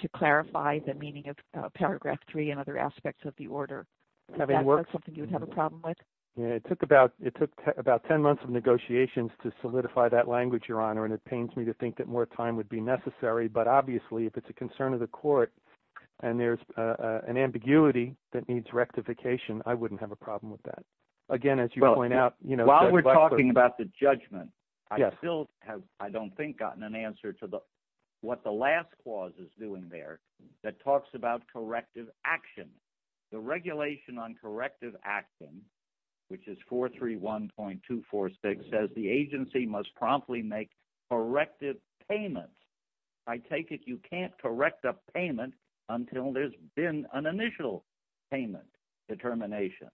to clarify the meaning of paragraph three and other aspects of the order. Is that something you would have a problem with? It took about 10 months of negotiations to solidify that language, Your Honor, and it pains me to think that more time would be necessary. But obviously, if it's a concern of the court, and there's an ambiguity that needs rectification, I wouldn't have a problem with that. Again, as you point out, you know… While we're talking about the judgment, I still have, I don't think, gotten an answer to what the last clause is doing there that talks about corrective action. The regulation on corrective action, which is 431.246, says the agency must promptly make corrective payment. I take it you can't correct a payment until there's been an initial payment determination.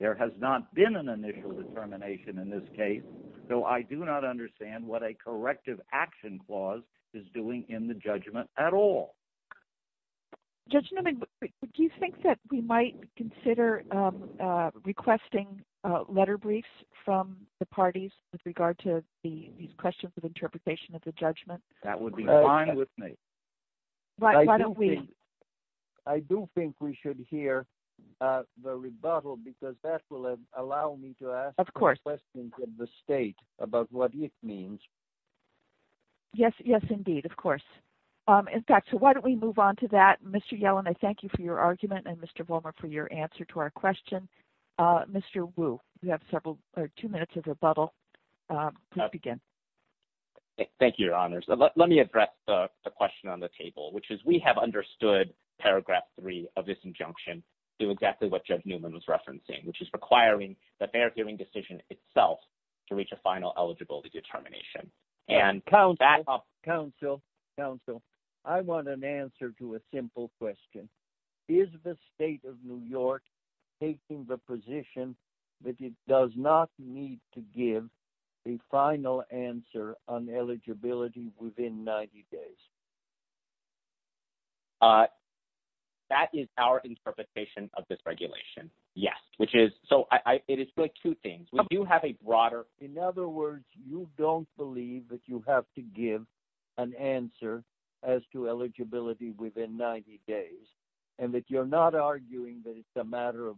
There has not been an initial determination in this case, so I do not understand what a corrective action clause is doing in the judgment at all. Judge Newman, do you think that we might consider requesting letter briefs from the parties with regard to these questions of interpretation of the judgment? That would be fine with me. Why don't we… I do think we should hear the rebuttal because that will allow me to ask questions of the state about what it means. Yes, yes, indeed, of course. In fact, so why don't we move on to that? Mr. Yellen, I thank you for your argument and Mr. Volmer for your answer to our question. Please begin. Thank you, Your Honors. Let me address the question on the table, which is we have understood paragraph 3 of this injunction to exactly what Judge Newman was referencing, which is requiring that they are giving decision itself to reach a final eligibility determination. Counsel, counsel, I want an answer to a simple question. Is the state of New York taking the position that it does not need to give the final answer on eligibility within 90 days? That is our interpretation of this regulation. Yes, which is… So, it is good. Two things. We do have a broader… In other words, you don't believe that you have to give an answer as to eligibility within 90 days and that you're not arguing that it's a matter of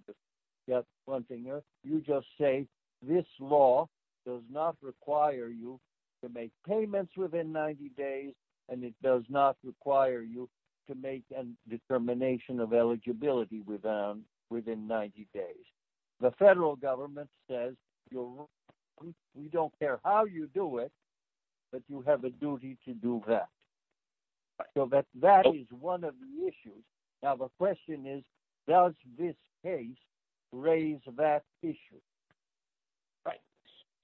just fronting us. You just say this law does not require you to make payments within 90 days and it does not require you to make a determination of eligibility within 90 days. The federal government says you don't care how you do it, but you have a duty to do that. So, that is one of the issues. Now, the question is, does this case raise that issue? Right.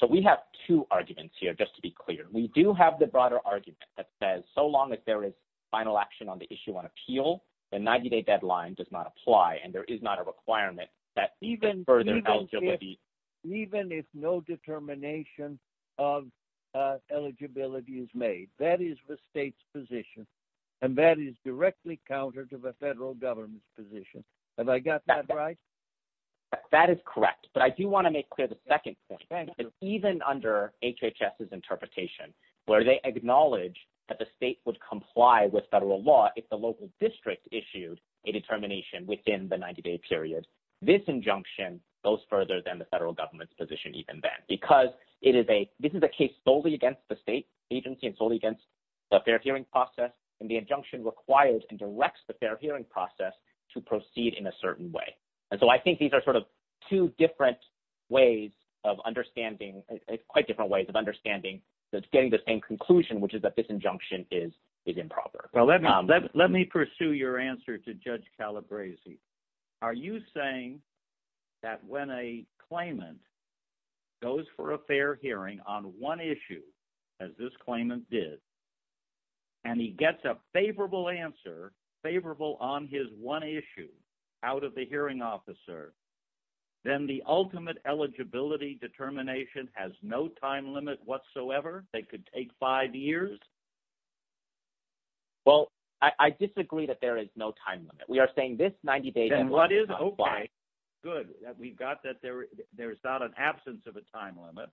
So, we have two arguments here, just to be clear. We do have the broader argument that says so long as there is final action on the issue on appeal, the 90-day deadline does not apply and there is not a requirement that even further… Even if no determination of eligibility is made. That is the state's position and that is directly counter to the federal government's position. Have I got that right? That is correct. But I do want to make clear the second thing. Even under HHS's interpretation, where they acknowledge that the state would comply with federal law if the local district issued a determination within the 90-day period, this injunction goes further than the federal government's position even then. It is a case solely against the state agency and solely against the fair hearing process, and the injunction requires and directs the fair hearing process to proceed in a certain way. So, I think these are two different ways of understanding, quite different ways of understanding the same conclusion, which is that this injunction is improper. Let me pursue your answer to Judge Calabresi. Are you saying that when a claimant goes for a fair hearing on one issue, as this claimant did, and he gets a favorable answer, favorable on his one issue out of the hearing officer, then the ultimate eligibility determination has no time limit whatsoever? They could take five years? Well, I disagree that there is no time limit. We are saying this 90-day… And what is, okay, good. We've got that there's not an absence of a time limit.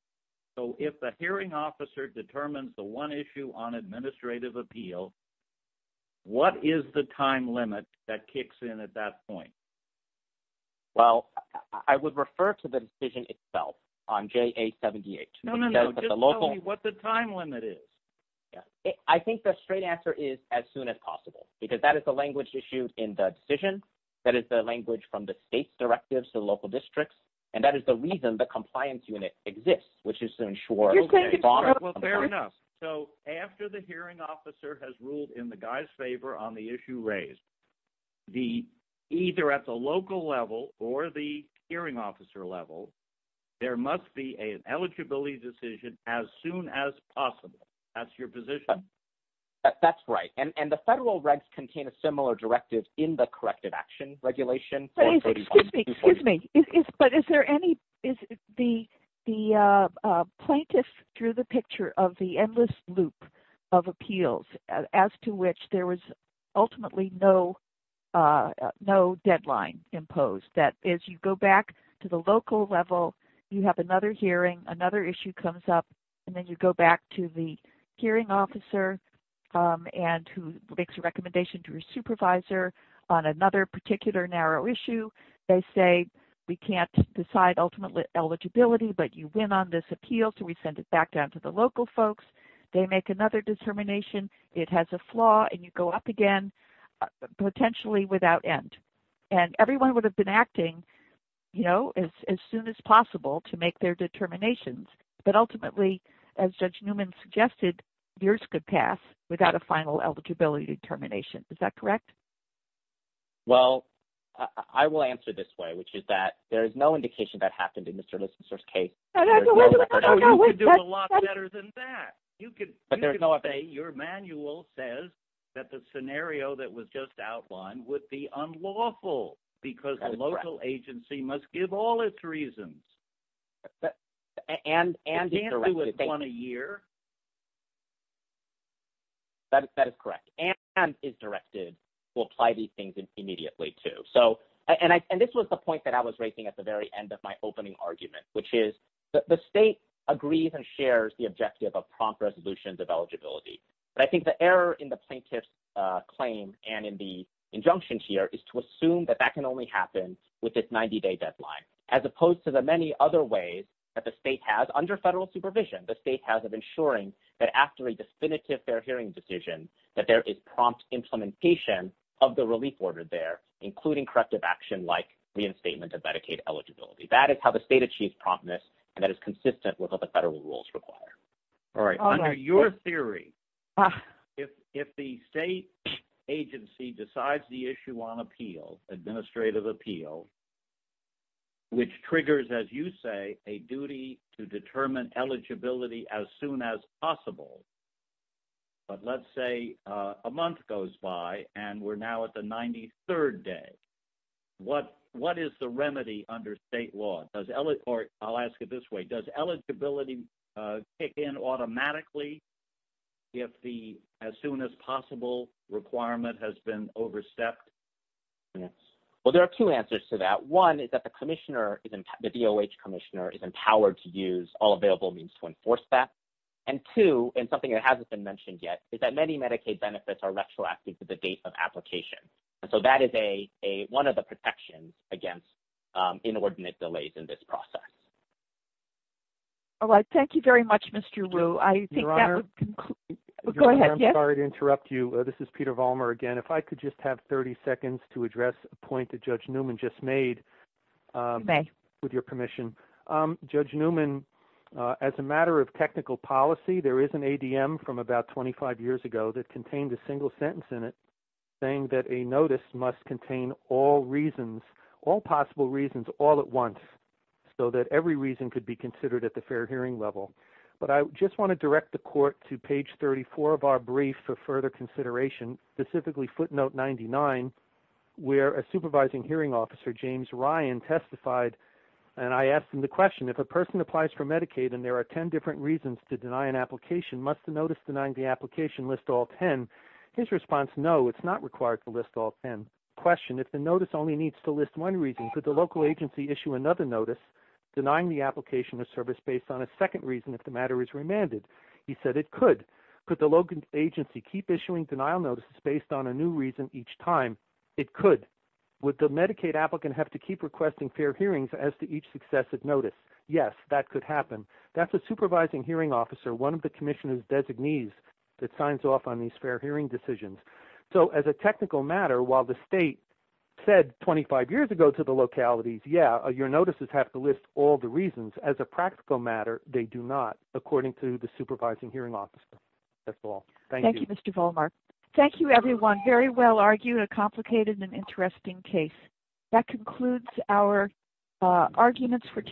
So, if the hearing officer determines the one issue on administrative appeal, what is the time limit that kicks in at that point? Well, I would refer to the decision itself on JA-78. No, no, no, just tell me what the time limit is. I think the straight answer is as soon as possible, because that is the language issued in the decision. That is the language from the state directives to the local districts, and that is the reason the compliance unit exists, which is to ensure… Well, fair enough. So, after the hearing officer has ruled in the guy's favor on the issue raised, either at the local level or the hearing officer level, there must be an eligibility decision as soon as possible. That's your position? That's right. And the federal regs contain a similar directive in the corrected action regulation. Excuse me, but is there any… The plaintiff drew the picture of the endless loop of appeals, as to which there was ultimately no deadline imposed. That is, you go back to the local level, you have another hearing, another issue comes up, and then you go back to the hearing officer and who makes a recommendation to your supervisor on another particular narrow issue. They say, we can't decide ultimately eligibility, but you win on this appeal, so we send it back down to the local folks. They make another determination. It has a flaw, and you go up again, potentially without end. And everyone would have been acting as soon as possible to make their determinations. But ultimately, as Judge Newman suggested, yours could pass without a final eligibility determination. Is that correct? Well, I will answer this way, which is that there is no indication that happened in Mr. Lissitzer's case. You could do a lot better than that. Your manual says that the scenario that was just outlined would be unlawful, because the local agency must give all its reasons. But, and, and, Is there a year? That is correct, and is directed to apply these things immediately too. So, and I, and this was the point that I was making at the very end of my opening argument, which is that the state agrees and shares the objective of prompt resolutions of eligibility. But I think the error in the plaintiff's claim and in the injunctions here is to assume that that can only happen with this 90-day deadline, as opposed to the many other ways that the state has, under federal supervision, the state has of ensuring that after a definitive fair hearing decision, that there is prompt implementation of the relief order there, including corrective action like reinstatement of Medicaid eligibility. That is how the state achieves promptness, and that is consistent with what the federal rules require. All right, under your theory, if, if the state agency decides the issue on appeal, administrative appeal, which triggers, as you say, a duty to determine eligibility as soon as possible, but let's say a month goes by and we're now at the 93rd day. What, what is the remedy under state law? I'll ask it this way. Does eligibility kick in automatically if the as-soon-as-possible requirement has been overstepped? Well, there are two answers to that. One is that the commissioner, the DOH commissioner is empowered to use all available means to enforce that. And two, and something that hasn't been mentioned yet, is that many Medicaid benefits are retroactive to the date of application. And so that is a, a, one of the protections against inordinate delays in this process. All right. Thank you very much, Mr. Rue. I think that would conclude. Go ahead. I'm sorry to interrupt you. This is Peter Vollmer again. If I could just have 30 seconds to address a point that Judge Newman just made. You may. With your permission. Judge Newman, as a matter of technical policy, there is an ADM from about 25 years ago that contained a single sentence in it saying that a notice must contain all reasons, all possible reasons, all at once so that every reason could be considered at the fair hearing level. But I just want to direct the court to page 34 of our brief for further consideration, specifically footnote 99, where a supervising hearing officer, James Ryan, testified, and I asked him the question, if a person applies for Medicaid and there are 10 different reasons to deny an application, must the notice denying the application list all 10? His response, no, it's not required to list all 10. Question, if the notice only needs to list one reason, could the local agency issue another notice denying the application of service based on a second reason if the matter is remanded? He said it could. Could the local agency keep issuing denial notices based on a new reason each time? It could. Would the Medicaid applicant have to keep requesting fair hearings as to each successive notice? Yes, that could happen. That's a supervising hearing officer, one of the commissioner's designees that signs off on these fair hearing decisions. So as a technical matter, while the state said 25 years ago to the localities, yeah, your notices have to list all the reasons, as a practical matter, they do not, according to the supervising hearing officer. That's all. Thank you. Thank you, Mr. Volmar. Thank you, everyone. Very well argued, a complicated and interesting case. That concludes our arguments for today.